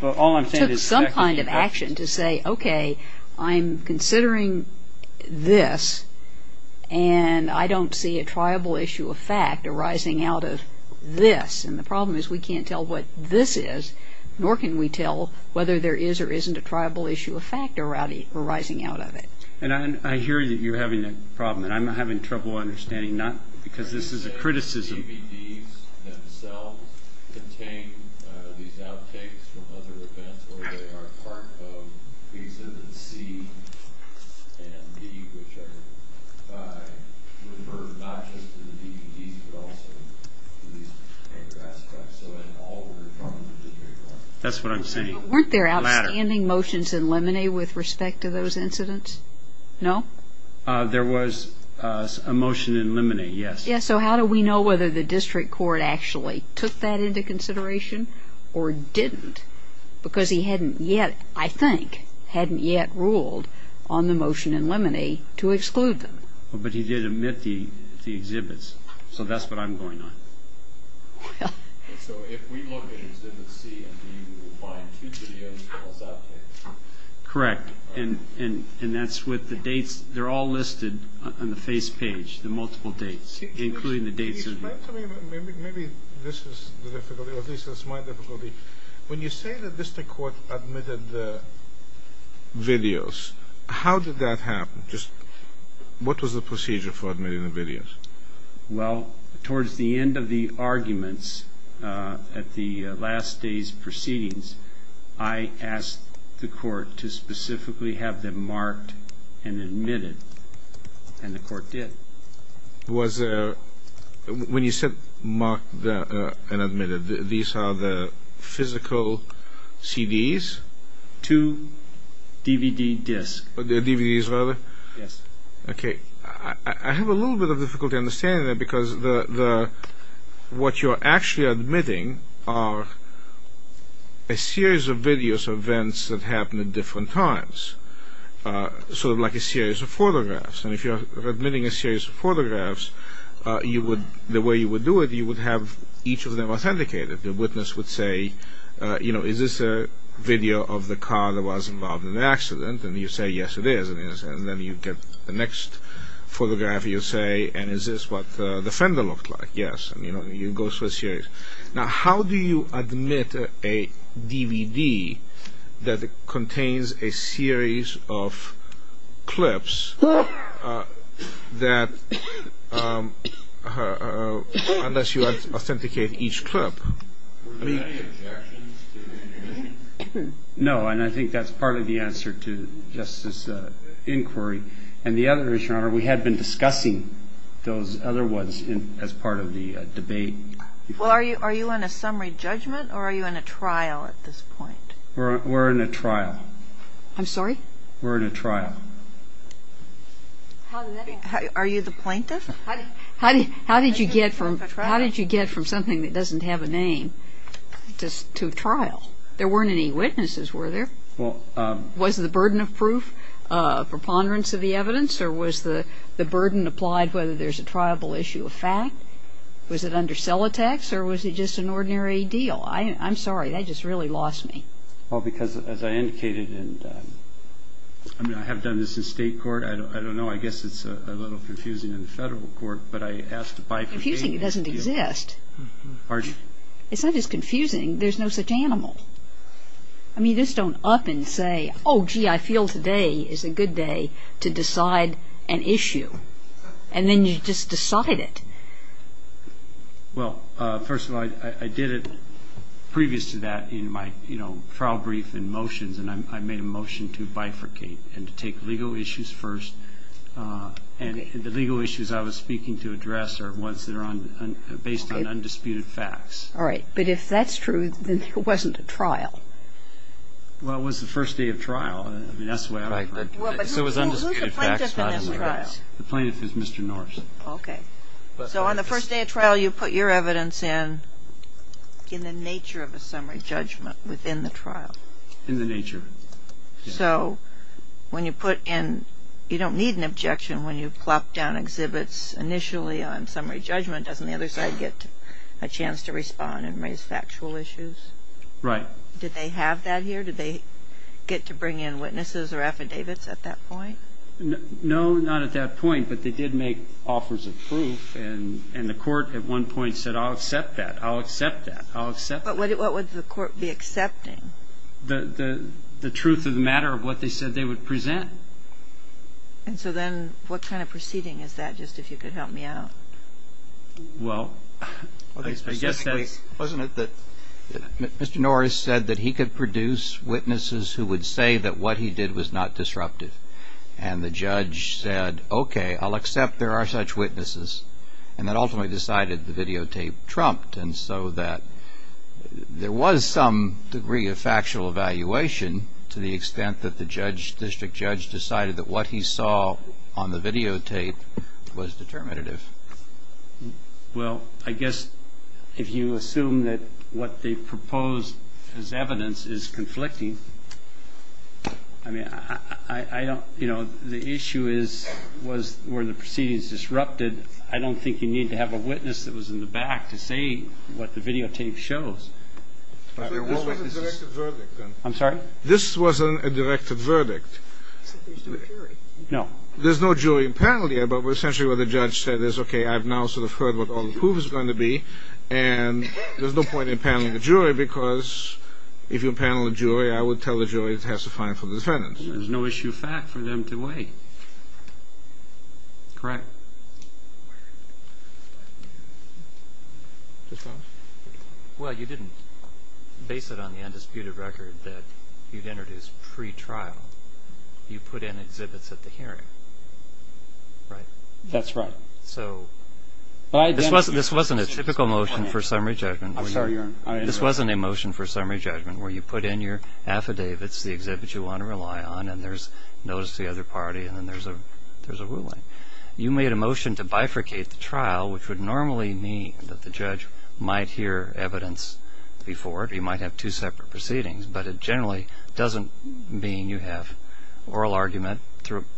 took some kind of action to say, okay, I'm considering this and I don't see a triable issue of fact arising out of this. And the problem is we can't tell what this is, nor can we tell whether there is or isn't a triable issue of fact arising out of it. And I hear that you're having a problem, and I'm having trouble understanding not because this is a criticism. The DVDs themselves contain these outtakes from other events, or they are part of Exhibit C and D, which are referred not just to the DVDs but also to these other aspects. So in all order from the district court. That's what I'm saying. Weren't there outstanding motions in Lemonade with respect to those incidents? No? There was a motion in Lemonade, yes. So how do we know whether the district court actually took that into consideration or didn't? Because he hadn't yet, I think, hadn't yet ruled on the motion in Lemonade to exclude them. But he did omit the exhibits. So that's what I'm going on. So if we look at Exhibit C and D, we'll find two videos as well as outtakes. Correct. And that's with the dates. They're all listed on the face page, the multiple dates, including the dates. Maybe this is the difficulty, or this is my difficulty. When you say that district court admitted the videos, how did that happen? What was the procedure for admitting the videos? Well, towards the end of the arguments at the last day's proceedings, I asked the court to specifically have them marked and admitted, and the court did. When you said marked and admitted, these are the physical CDs? Two DVD discs. DVDs, rather? Yes. Okay. I have a little bit of difficulty understanding that because what you're actually admitting are a series of videos, events that happen at different times, sort of like a series of photographs. And if you're admitting a series of photographs, the way you would do it, you would have each of them authenticated. The witness would say, you know, is this a video of the car that was involved in the accident? And you say, yes, it is. And then you get the next photograph, you say, and is this what the fender looked like? Yes. And, you know, you go through a series. Now, how do you admit a DVD that contains a series of clips that, unless you authenticate each clip? Were there any objections to the evidence? No, and I think that's part of the answer to Justice's inquiry. And the other is, Your Honor, we had been discussing those other ones as part of the debate. Well, are you on a summary judgment or are you on a trial at this point? We're on a trial. I'm sorry? We're on a trial. Are you the plaintiff? How did you get from something that doesn't have a name to trial? There weren't any witnesses, were there? Was the burden of proof preponderance of the evidence or was the burden applied whether there's a triable issue of fact? Was it under cell attacks or was it just an ordinary deal? I'm sorry. That just really lost me. Well, because, as I indicated, and I mean, I have done this in state court. I don't know. I guess it's a little confusing in the federal court. But I asked to buy the name. It's confusing. It doesn't exist. Pardon? It's not just confusing. There's no such animal. I mean, you just don't up and say, oh, gee, I feel today is a good day to decide an issue. And then you just decide it. Well, first of all, I did it previous to that in my trial brief and motions, and I made a motion to bifurcate and to take legal issues first. And the legal issues I was speaking to address are ones that are based on undisputed facts. All right. But if that's true, then there wasn't a trial. Well, it was the first day of trial. I mean, that's the way I heard it. So it was undisputed facts. Who's the plaintiff in this trial? The plaintiff is Mr. Norris. Okay. So on the first day of trial, you put your evidence in in the nature of a summary judgment within the trial. In the nature. So when you put in, you don't need an objection when you plop down exhibits initially on summary judgment. Doesn't the other side get a chance to respond and raise factual issues? Right. Did they have that here? Did they get to bring in witnesses or affidavits at that point? No, not at that point. But they did make offers of proof, and the court at one point said, I'll accept that. I'll accept that. I'll accept that. But what would the court be accepting? The truth of the matter of what they said they would present. And so then what kind of proceeding is that, just if you could help me out? Well, I guess that wasn't it that Mr. Norris said that he could produce witnesses who would say that what he did was not disruptive. And the judge said, okay, I'll accept there are such witnesses. And that ultimately decided the videotape trumped. And so that there was some degree of factual evaluation to the extent that the judge, district judge, decided that what he saw on the videotape was determinative. Well, I guess if you assume that what they proposed as evidence is conflicting, I mean, I don't, you know, the issue is was were the proceedings disrupted. I don't think you need to have a witness that was in the back to say what the videotape shows. I'm sorry? This wasn't a directed verdict. No. There's no jury in panel yet, but essentially what the judge said is, okay, I've now sort of heard what all the proof is going to be. And there's no point in paneling a jury because if you panel a jury, I would tell the jury it has to find for the defendants. There's no issue of fact for them to weigh. Correct? Well, you didn't base it on the undisputed record that you'd introduced pre-trial. You put in exhibits at the hearing, right? That's right. So this wasn't a typical motion for summary judgment. I'm sorry. This wasn't a motion for summary judgment where you put in your affidavits, the exhibits you want to rely on, and there's notice to the other party, and then there's a ruling. You made a motion to bifurcate the trial, which would normally mean that the judge might hear evidence before it. You might have two separate proceedings, but it generally doesn't mean you have oral argument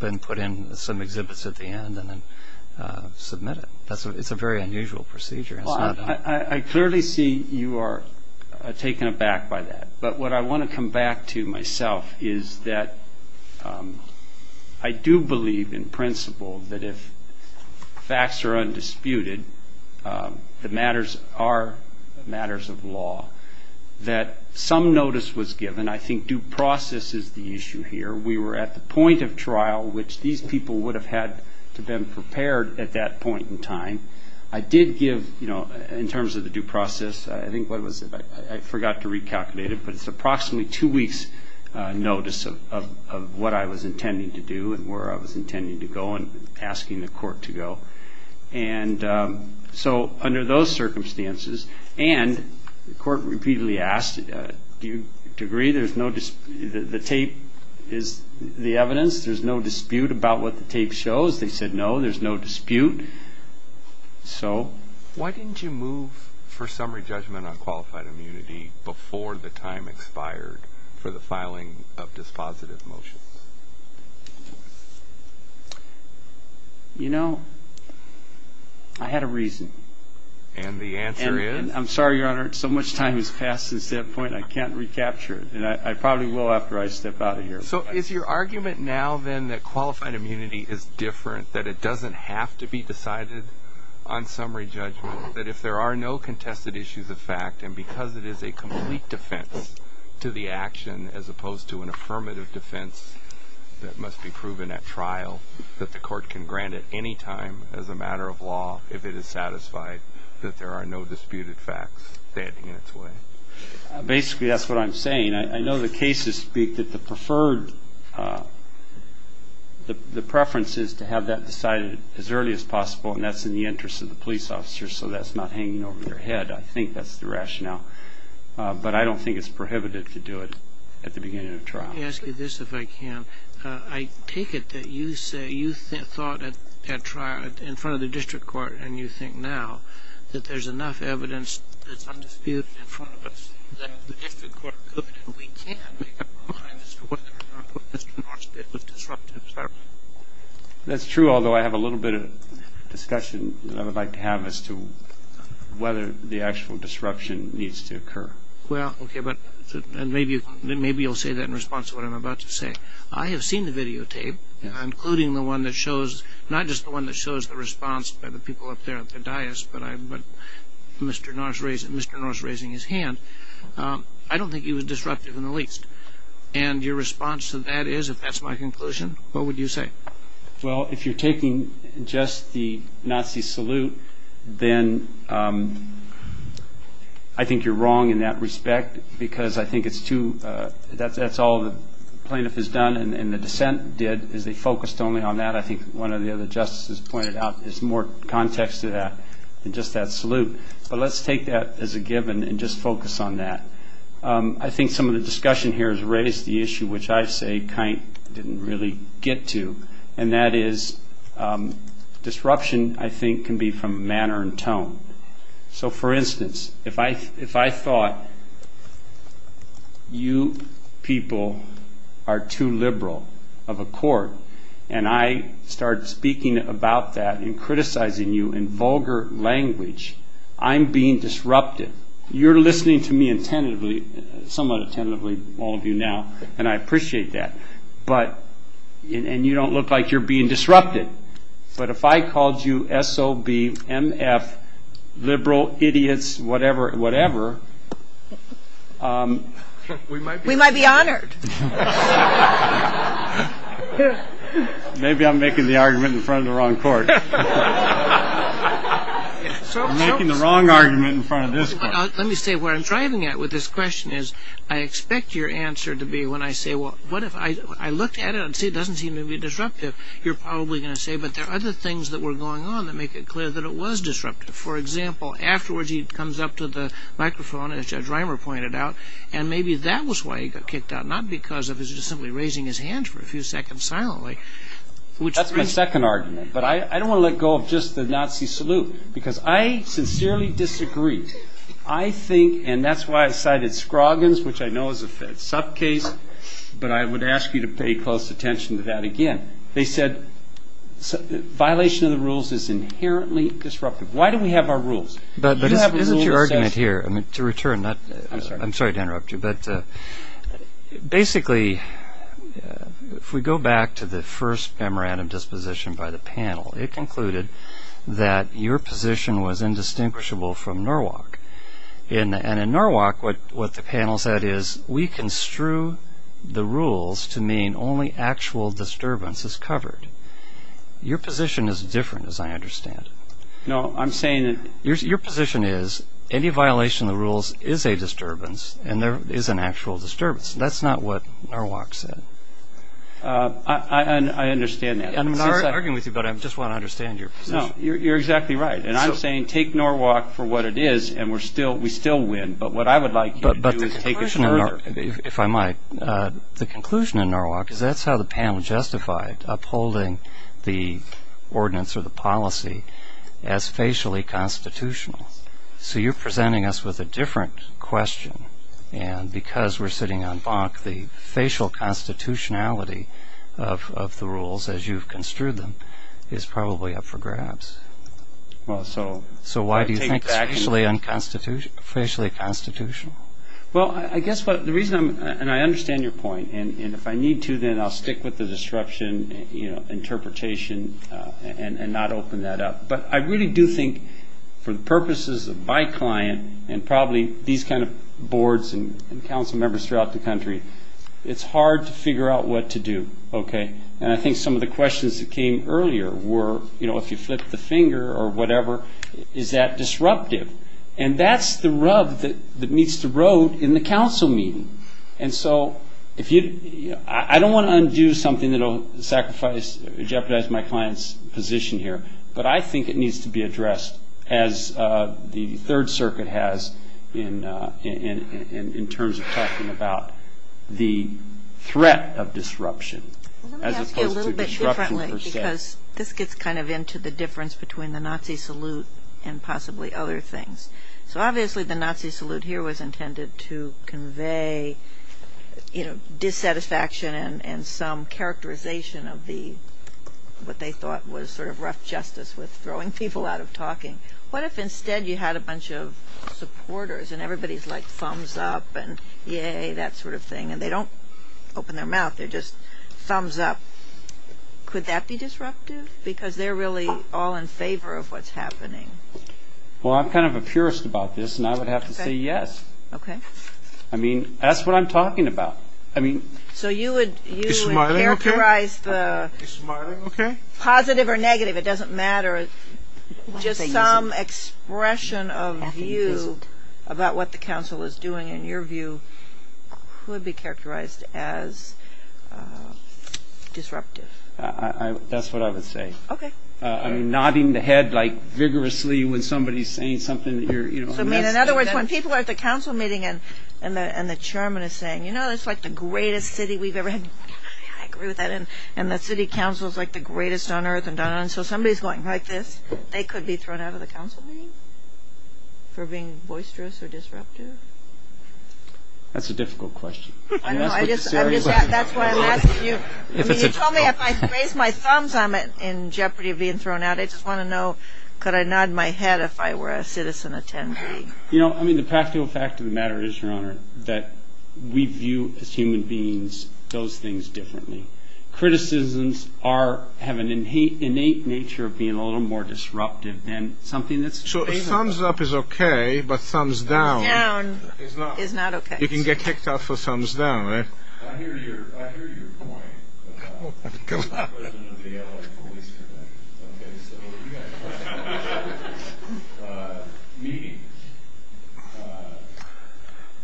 and put in some exhibits at the end and then submit it. It's a very unusual procedure. I clearly see you are taken aback by that. But what I want to come back to myself is that I do believe in principle that if facts are undisputed, the matters are matters of law, that some notice was given. I think due process is the issue here. We were at the point of trial, which these people would have had to have been prepared at that point in time. I did give, in terms of the due process, I think what was it? I forgot to recalculate it, but it's approximately two weeks' notice of what I was intending to do and where I was intending to go and asking the court to go. And so under those circumstances, and the court repeatedly asked, do you agree the tape is the evidence, there's no dispute about what the tape shows? They said no, there's no dispute. So? Why didn't you move for summary judgment on qualified immunity before the time expired for the filing of dispositive motions? You know, I had a reason. And the answer is? I'm sorry, Your Honor, so much time has passed since that point, I can't recapture it. And I probably will after I step out of here. So is your argument now, then, that qualified immunity is different, that it doesn't have to be decided on summary judgment, that if there are no contested issues of fact and because it is a complete defense to the action as opposed to an affirmative defense that must be proven at trial, that the court can grant it any time as a matter of law if it is satisfied that there are no disputed facts standing in its way? Basically, that's what I'm saying. I mean, I know the cases speak that the preferred preference is to have that decided as early as possible, and that's in the interest of the police officer, so that's not hanging over their head. I think that's the rationale. But I don't think it's prohibited to do it at the beginning of trial. Let me ask you this, if I can. I take it that you say you thought at trial, in front of the district court, and you think now that there's enough evidence that's undisputed in front of us that the district court could and we can make up our minds as to whether or not what Mr. Norris did was disruptive, is that right? That's true, although I have a little bit of discussion that I would like to have as to whether the actual disruption needs to occur. Well, okay, but maybe you'll say that in response to what I'm about to say. I have seen the videotape, including the one that shows, not just the one that shows the response by the people up there at the dais, but Mr. Norris raising his hand. I don't think he was disruptive in the least. And your response to that is, if that's my conclusion, what would you say? Well, if you're taking just the Nazi salute, then I think you're wrong in that respect because I think that's all the plaintiff has done and the dissent did is they focused only on that. I think one of the other justices pointed out there's more context to that than just that salute. But let's take that as a given and just focus on that. I think some of the discussion here has raised the issue which I say Kindt didn't really get to, and that is disruption, I think, can be from manner and tone. So, for instance, if I thought you people are too liberal of a court and I started speaking about that and criticizing you in vulgar language, I'm being disruptive. You're listening to me attentively, somewhat attentively, all of you now, and I appreciate that. And you don't look like you're being disrupted. But if I called you S.O.B., M.F., liberal idiots, whatever, whatever, we might be honored. Maybe I'm making the argument in front of the wrong court. I'm making the wrong argument in front of this court. Let me say where I'm driving at with this question is I expect your answer to be when I say, well, what if I looked at it and see it doesn't seem to be disruptive, you're probably going to say, but there are other things that were going on that make it clear that it was disruptive. For example, afterwards he comes up to the microphone, as Judge Reimer pointed out, and maybe that was why he got kicked out, not because of his just simply raising his hand for a few seconds silently. That's my second argument. But I don't want to let go of just the Nazi salute because I sincerely disagree. I think, and that's why I cited Scroggins, which I know is a sub-case, but I would ask you to pay close attention to that again. They said violation of the rules is inherently disruptive. Why do we have our rules? But isn't your argument here, to return, I'm sorry to interrupt you, but basically if we go back to the first memorandum disposition by the panel, it concluded that your position was indistinguishable from Norwalk. And in Norwalk what the panel said is we construe the rules to mean only actual disturbance is covered. Your position is different, as I understand it. Your position is any violation of the rules is a disturbance and there is an actual disturbance. That's not what Norwalk said. I understand that. I'm not arguing with you, but I just want to understand your position. No, you're exactly right. And I'm saying take Norwalk for what it is and we still win. But what I would like you to do is take it further. If I might, the conclusion in Norwalk is that's how the panel justified upholding the ordinance or the policy as facially constitutional. So you're presenting us with a different question. And because we're sitting on Bonk, the facial constitutionality of the rules as you've construed them is probably up for grabs. So why do you think it's facially constitutional? Well, I guess the reason I'm ‑‑ and I understand your point, and if I need to then I'll stick with the disruption interpretation and not open that up. But I really do think for the purposes of my client and probably these kind of boards and council members throughout the country, it's hard to figure out what to do. And I think some of the questions that came earlier were, if you flip the finger or whatever, is that disruptive? And that's the rub that meets the road in the council meeting. And so I don't want to undo something that will jeopardize my client's position here, but I think it needs to be addressed as the Third Circuit has in terms of talking about the threat of disruption as opposed to disruption per se. Let me ask you a little bit differently because this gets kind of into the difference between the Nazi salute and possibly other things. So obviously the Nazi salute here was intended to convey dissatisfaction and some characterization of what they thought was sort of rough justice with throwing people out of talking. What if instead you had a bunch of supporters and everybody's like thumbs up and yay, that sort of thing, and they don't open their mouth, they're just thumbs up. Could that be disruptive? Because they're really all in favor of what's happening. Well, I'm kind of a purist about this, and I would have to say yes. I mean, that's what I'm talking about. So you would characterize the positive or negative, it doesn't matter, just some expression of view about what the council is doing, in your view, could be characterized as disruptive. That's what I would say. Okay. I mean, nodding the head vigorously when somebody's saying something. So in other words, when people are at the council meeting and the chairman is saying, you know, this is like the greatest city we've ever had, I agree with that, and the city council is like the greatest on earth, and so somebody's going like this, they could be thrown out of the council meeting for being boisterous or disruptive? That's a difficult question. That's why I'm asking you. I mean, you told me if I raised my thumbs, I'm in jeopardy of being thrown out. I just want to know, could I nod my head if I were a citizen attendee? You know, I mean, the practical fact of the matter is, Your Honor, that we view as human beings those things differently. Criticisms have an innate nature of being a little more disruptive than something that's favorable. So a thumbs-up is okay, but thumbs-down is not. Thumbs-down is not okay. You can get kicked out for thumbs-down, right? I hear your point about the president of the L.A. Police Convention. Okay? So we've got quite a number of meetings.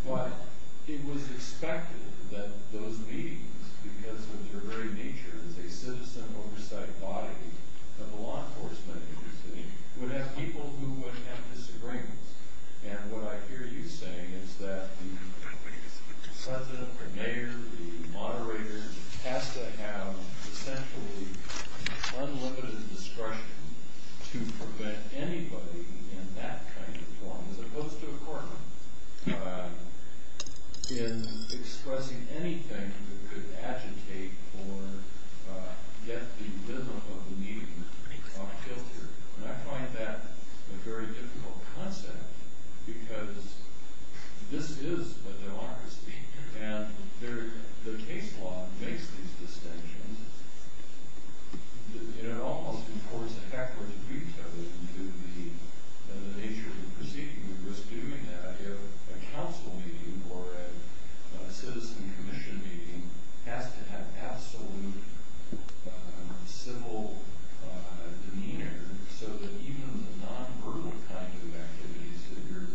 But it was expected that those meetings, because of their very nature as a citizen oversight body of the law enforcement agency, would have people who would have disagreements. And what I hear you saying is that the president, the mayor, the moderator has to have essentially unlimited discretion to prevent anybody in that kind of form, as opposed to a court in expressing anything that could agitate or get the rhythm of the meeting off-kilter. And I find that a very difficult concept because this is a democracy, and the case law makes these distinctions. And it almost, of course, effects the nature of the proceeding. We risk doing that if a council meeting or a citizen commission meeting has to have absolute civil demeanor so that even the non-verbal kind of activities that you're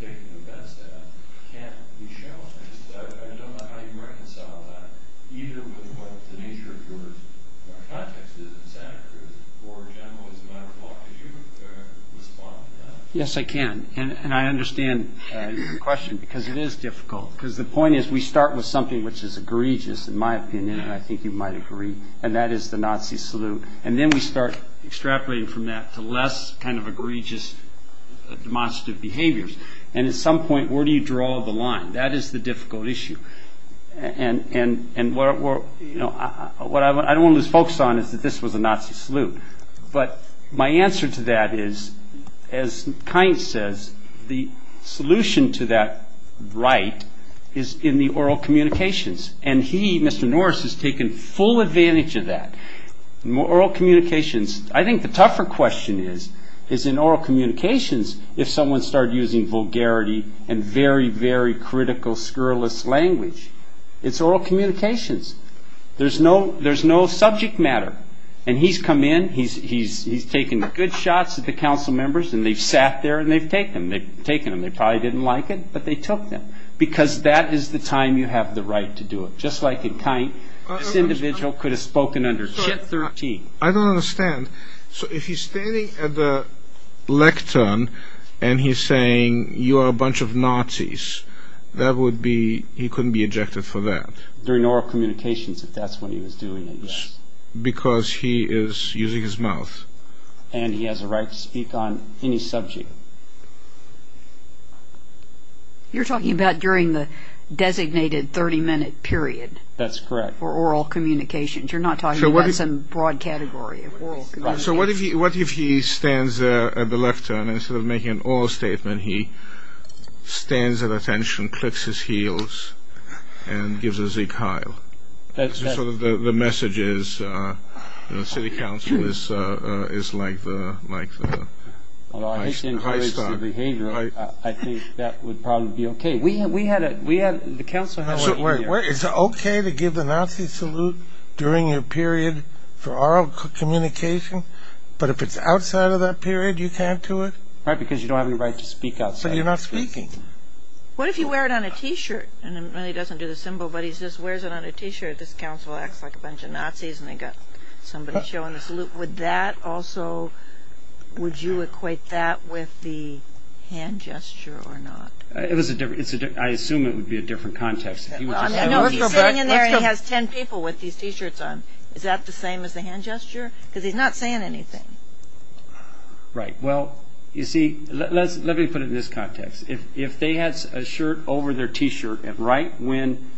taking offense at can't be shown. I just don't know how you reconcile that, either with what the nature of your context is in Santa Cruz, or in general as a matter of law. Could you respond to that? Yes, I can. And I understand your question because it is difficult. Because the point is we start with something which is egregious, in my opinion, and I think you might agree, and that is the Nazi salute. And then we start extrapolating from that to less kind of egregious demonstrative behaviors. And at some point, where do you draw the line? That is the difficult issue. And what I don't want to lose focus on is that this was a Nazi salute. But my answer to that is, as Kind says, the solution to that right is in the oral communications. And he, Mr. Norris, has taken full advantage of that. Oral communications, I think the tougher question is, is in oral communications, if someone started using vulgarity and very, very critical, scurrilous language. It's oral communications. There's no subject matter. And he's come in, he's taken good shots at the council members, and they've sat there and they've taken them. They've taken them. They probably didn't like it, but they took them. Because that is the time you have the right to do it. Just like in Kind, this individual could have spoken under chip 13. I don't understand. So if he's standing at the lectern and he's saying, you are a bunch of Nazis, that would be, he couldn't be ejected for that. During oral communications, if that's what he was doing, then yes. Because he is using his mouth. And he has a right to speak on any subject. You're talking about during the designated 30-minute period. That's correct. For oral communications. You're not talking about some broad category of oral communications. So what if he stands there at the lectern, and instead of making an oral statement, he stands at attention, clicks his heels, and gives a zeke heil? That's sort of the message is the city council is like the high star. I think that would probably be okay. We had the council here. Is it okay to give the Nazi salute during a period for oral communication? But if it's outside of that period, you can't do it? Right, because you don't have any right to speak outside. But you're not speaking. What if you wear it on a T-shirt? And it really doesn't do the symbol, but he just wears it on a T-shirt. This council acts like a bunch of Nazis, and they've got somebody showing the salute. Would that also, would you equate that with the hand gesture or not? I assume it would be a different context. He's sitting in there, and he has ten people with these T-shirts on. Is that the same as the hand gesture? Because he's not saying anything. Right. Well, you see, let me put it in this context. If they had a shirt over their T-shirt, and right when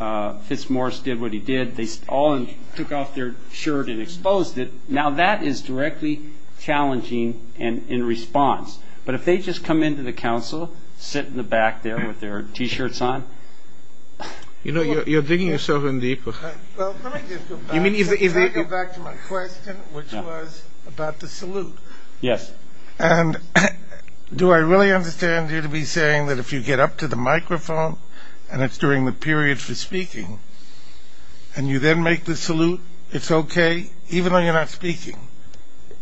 Fitzmorris did what he did, they all took off their shirt and exposed it, now that is directly challenging in response. But if they just come into the council, sit in the back there with their T-shirts on. You know, you're digging yourself in deeper. Well, let me just go back to my question, which was about the salute. Yes. And do I really understand you to be saying that if you get up to the microphone, and it's during the period for speaking, and you then make the salute, it's okay, even though you're not speaking? No.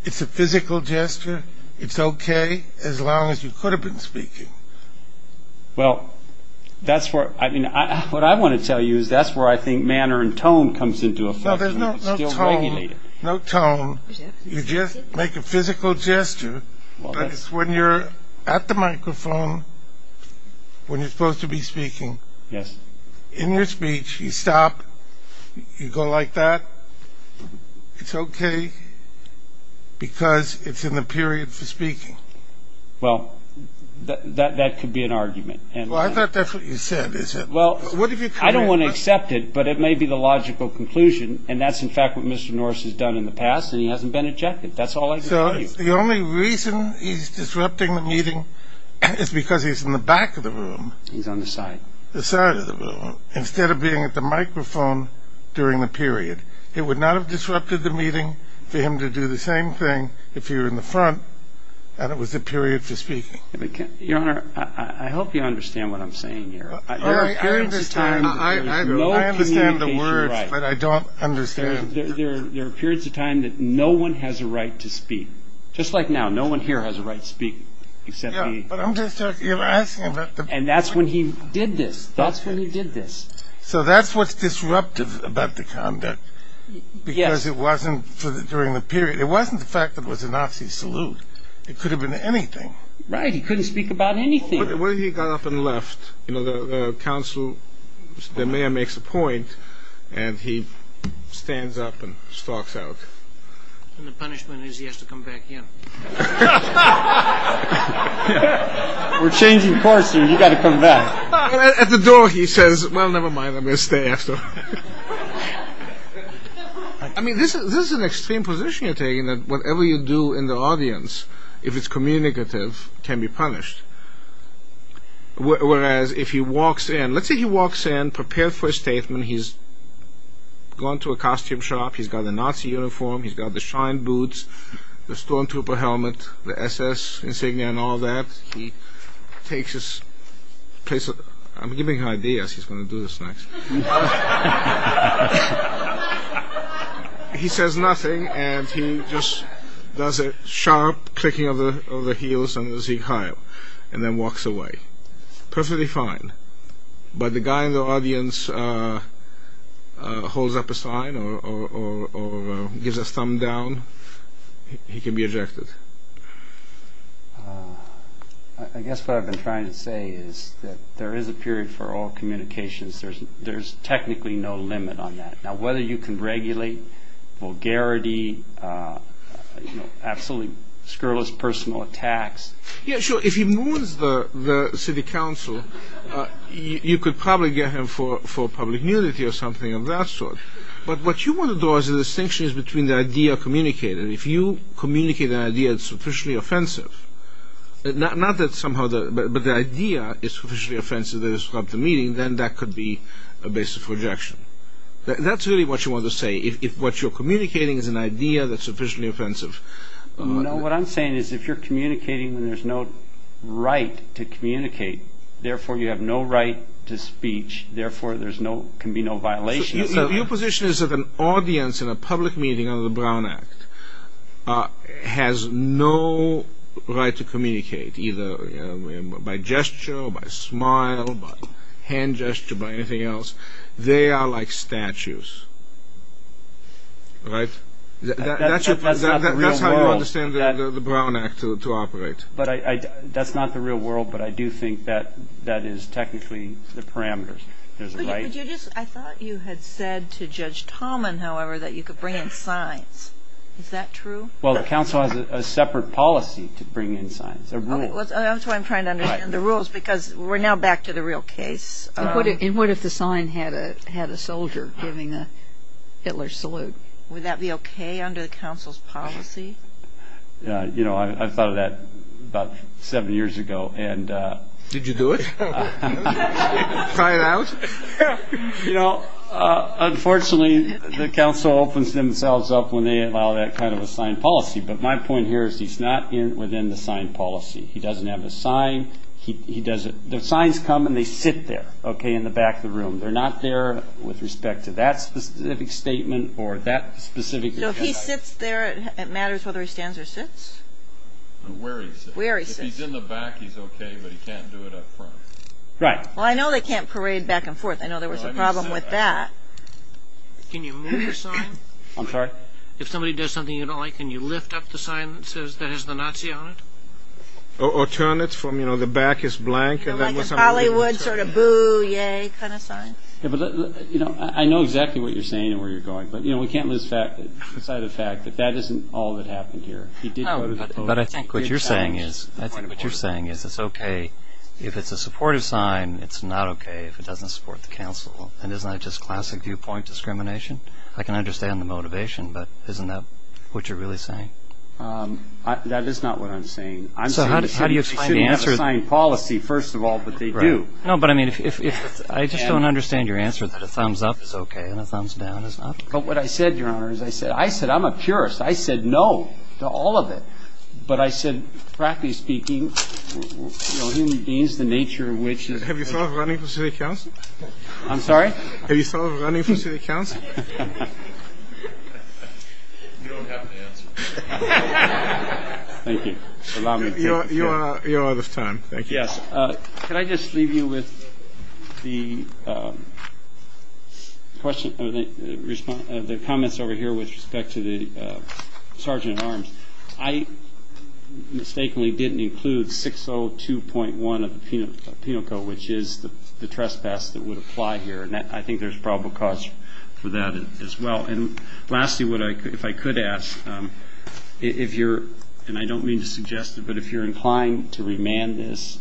It's a physical gesture. It's okay as long as you could have been speaking. Well, that's where, I mean, what I want to tell you is that's where I think manner and tone comes into effect. No, there's no tone. No tone. You just make a physical gesture, but it's when you're at the microphone, when you're supposed to be speaking. Yes. In your speech, you stop, you go like that. It's okay because it's in the period for speaking. Well, that could be an argument. Well, I thought that's what you said, isn't it? Well, I don't want to accept it, but it may be the logical conclusion, and that's, in fact, what Mr. Norris has done in the past, and he hasn't been ejected. That's all I can tell you. So the only reason he's disrupting the meeting is because he's in the back of the room. He's on the side. Instead of being at the microphone during the period. It would not have disrupted the meeting for him to do the same thing if he were in the front, and it was a period for speaking. Your Honor, I hope you understand what I'm saying here. I understand the words, but I don't understand. There are periods of time that no one has a right to speak. Just like now, no one here has a right to speak except me. Yeah, but I'm just asking about the point. And that's when he did this. That's when he did this. So that's what's disruptive about the conduct. Yes. Because it wasn't during the period. It wasn't the fact that it was a Nazi salute. It could have been anything. Right. He couldn't speak about anything. What if he got up and left? You know, the council, the mayor makes a point, and he stands up and stalks out. And the punishment is he has to come back in. We're changing course here. You've got to come back. At the door, he says, well, never mind. I'm going to stay after. I mean, this is an extreme position you're taking, that whatever you do in the audience, if it's communicative, can be punished. Whereas if he walks in, let's say he walks in prepared for a statement. He's gone to a costume shop. He's got a Nazi uniform. He's got the shine boots. He's got the Storm Trooper helmet, the SS insignia and all that. He takes his place. I'm giving him ideas. He's going to do this next. He says nothing, and he just does a sharp clicking of the heels and the zigzag, and then walks away. Perfectly fine. But the guy in the audience holds up a sign or gives a thumb down, he can be ejected. I guess what I've been trying to say is that there is a period for all communications. There's technically no limit on that. Now, whether you can regulate vulgarity, absolutely scurrilous personal attacks. Yeah, sure, if he moans the city council, you could probably get him for public nudity or something of that sort. But what you want to do is the distinction is between the idea of communicating. If you communicate an idea that's sufficiently offensive, not that somehow the idea is sufficiently offensive to disrupt the meeting, then that could be a basis for ejection. That's really what you want to say, if what you're communicating is an idea that's sufficiently offensive. No, what I'm saying is if you're communicating when there's no right to communicate, therefore you have no right to speech, therefore there can be no violation. So your position is that an audience in a public meeting under the Brown Act has no right to communicate, either by gesture or by smile, by hand gesture, by anything else. They are like statues. Right? That's how you understand the Brown Act to operate. That's not the real world, but I do think that is technically the parameters. I thought you had said to Judge Talman, however, that you could bring in signs. Is that true? Well, the council has a separate policy to bring in signs. That's why I'm trying to understand the rules, because we're now back to the real case. And what if the sign had a soldier giving a Hitler salute? Would that be okay under the council's policy? I thought of that about seven years ago. Did you do it? Try it out? Unfortunately, the council opens themselves up when they allow that kind of a sign policy, but my point here is he's not within the sign policy. He doesn't have a sign. The signs come and they sit there, okay, in the back of the room. They're not there with respect to that specific statement or that specific event. So if he sits there, it matters whether he stands or sits? Where he sits. If he's in the back, he's okay, but he can't do it up front. Right. Well, I know they can't parade back and forth. I know there was a problem with that. Can you move the sign? I'm sorry? If somebody does something you don't like, can you lift up the sign that says that has the Nazi on it? Or turn it from, you know, the back is blank? You know, like a Bollywood sort of boo-yay kind of sign? I know exactly what you're saying and where you're going, but we can't lose sight of the fact that that isn't all that happened here. But I think what you're saying is it's okay if it's a supportive sign. It's not okay if it doesn't support the council. And isn't that just classic viewpoint discrimination? I can understand the motivation, but isn't that what you're really saying? That is not what I'm saying. So how do you explain the answer? We shouldn't have a sign policy, first of all, but they do. No, but I mean, I just don't understand your answer that a thumbs up is okay and a thumbs down is not. But what I said, Your Honor, is I said I'm a purist. I said no to all of it. But I said, practically speaking, you know, human beings, the nature in which they are. Have you thought of running for city council? I'm sorry? Have you thought of running for city council? You don't have an answer. Thank you. Allow me to take this. Your Honor, this time. Thank you. Yes. Can I just leave you with the comments over here with respect to the Sergeant-at-Arms? I mistakenly didn't include 602.1 of the Penal Code, which is the trespass that would apply here. And I think there's probable cause for that as well. And lastly, if I could ask, and I don't mean to suggest it, but if you're inclined to remand this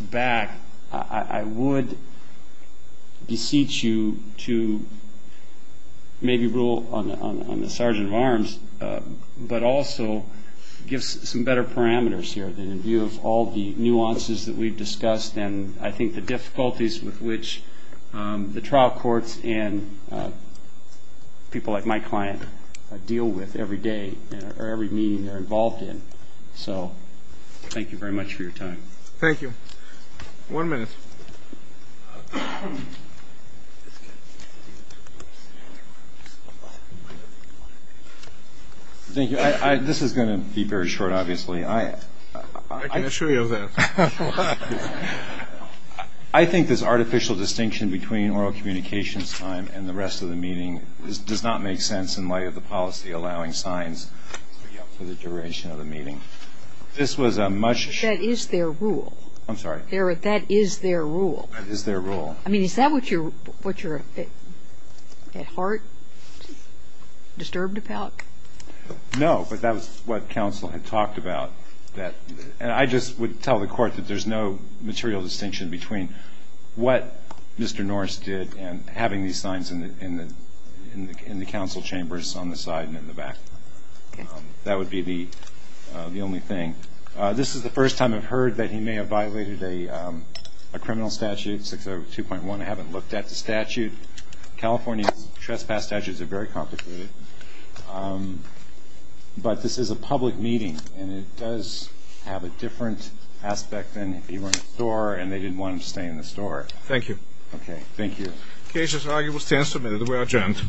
back, I would beseech you to maybe rule on the Sergeant-at-Arms, but also give some better parameters here in view of all the nuances that we've discussed and I think the difficulties with which the trial courts and people like my client deal with every day or every meeting they're involved in. So thank you very much for your time. Thank you. One minute. Thank you. This is going to be very short, obviously. I can assure you of that. I think this artificial distinction between oral communications time and the rest of the meeting does not make sense in light of the policy allowing signs to be up for the duration of the meeting. This was a much ---- That is their rule. I'm sorry. That is their rule. That is their rule. I mean, is that what you're at heart? Disturbed about? No, but that was what counsel had talked about. And I just would tell the court that there's no material distinction between what Mr. Norris did and having these signs in the council chambers on the side and in the back. That would be the only thing. This is the first time I've heard that he may have violated a criminal statute, 602.1. I haven't looked at the statute. California's trespass statutes are very complicated. But this is a public meeting, and it does have a different aspect than if he were in a store and they didn't want him to stay in the store. Thank you. Okay. Thank you. Cases and arguable stands submitted. We are adjourned.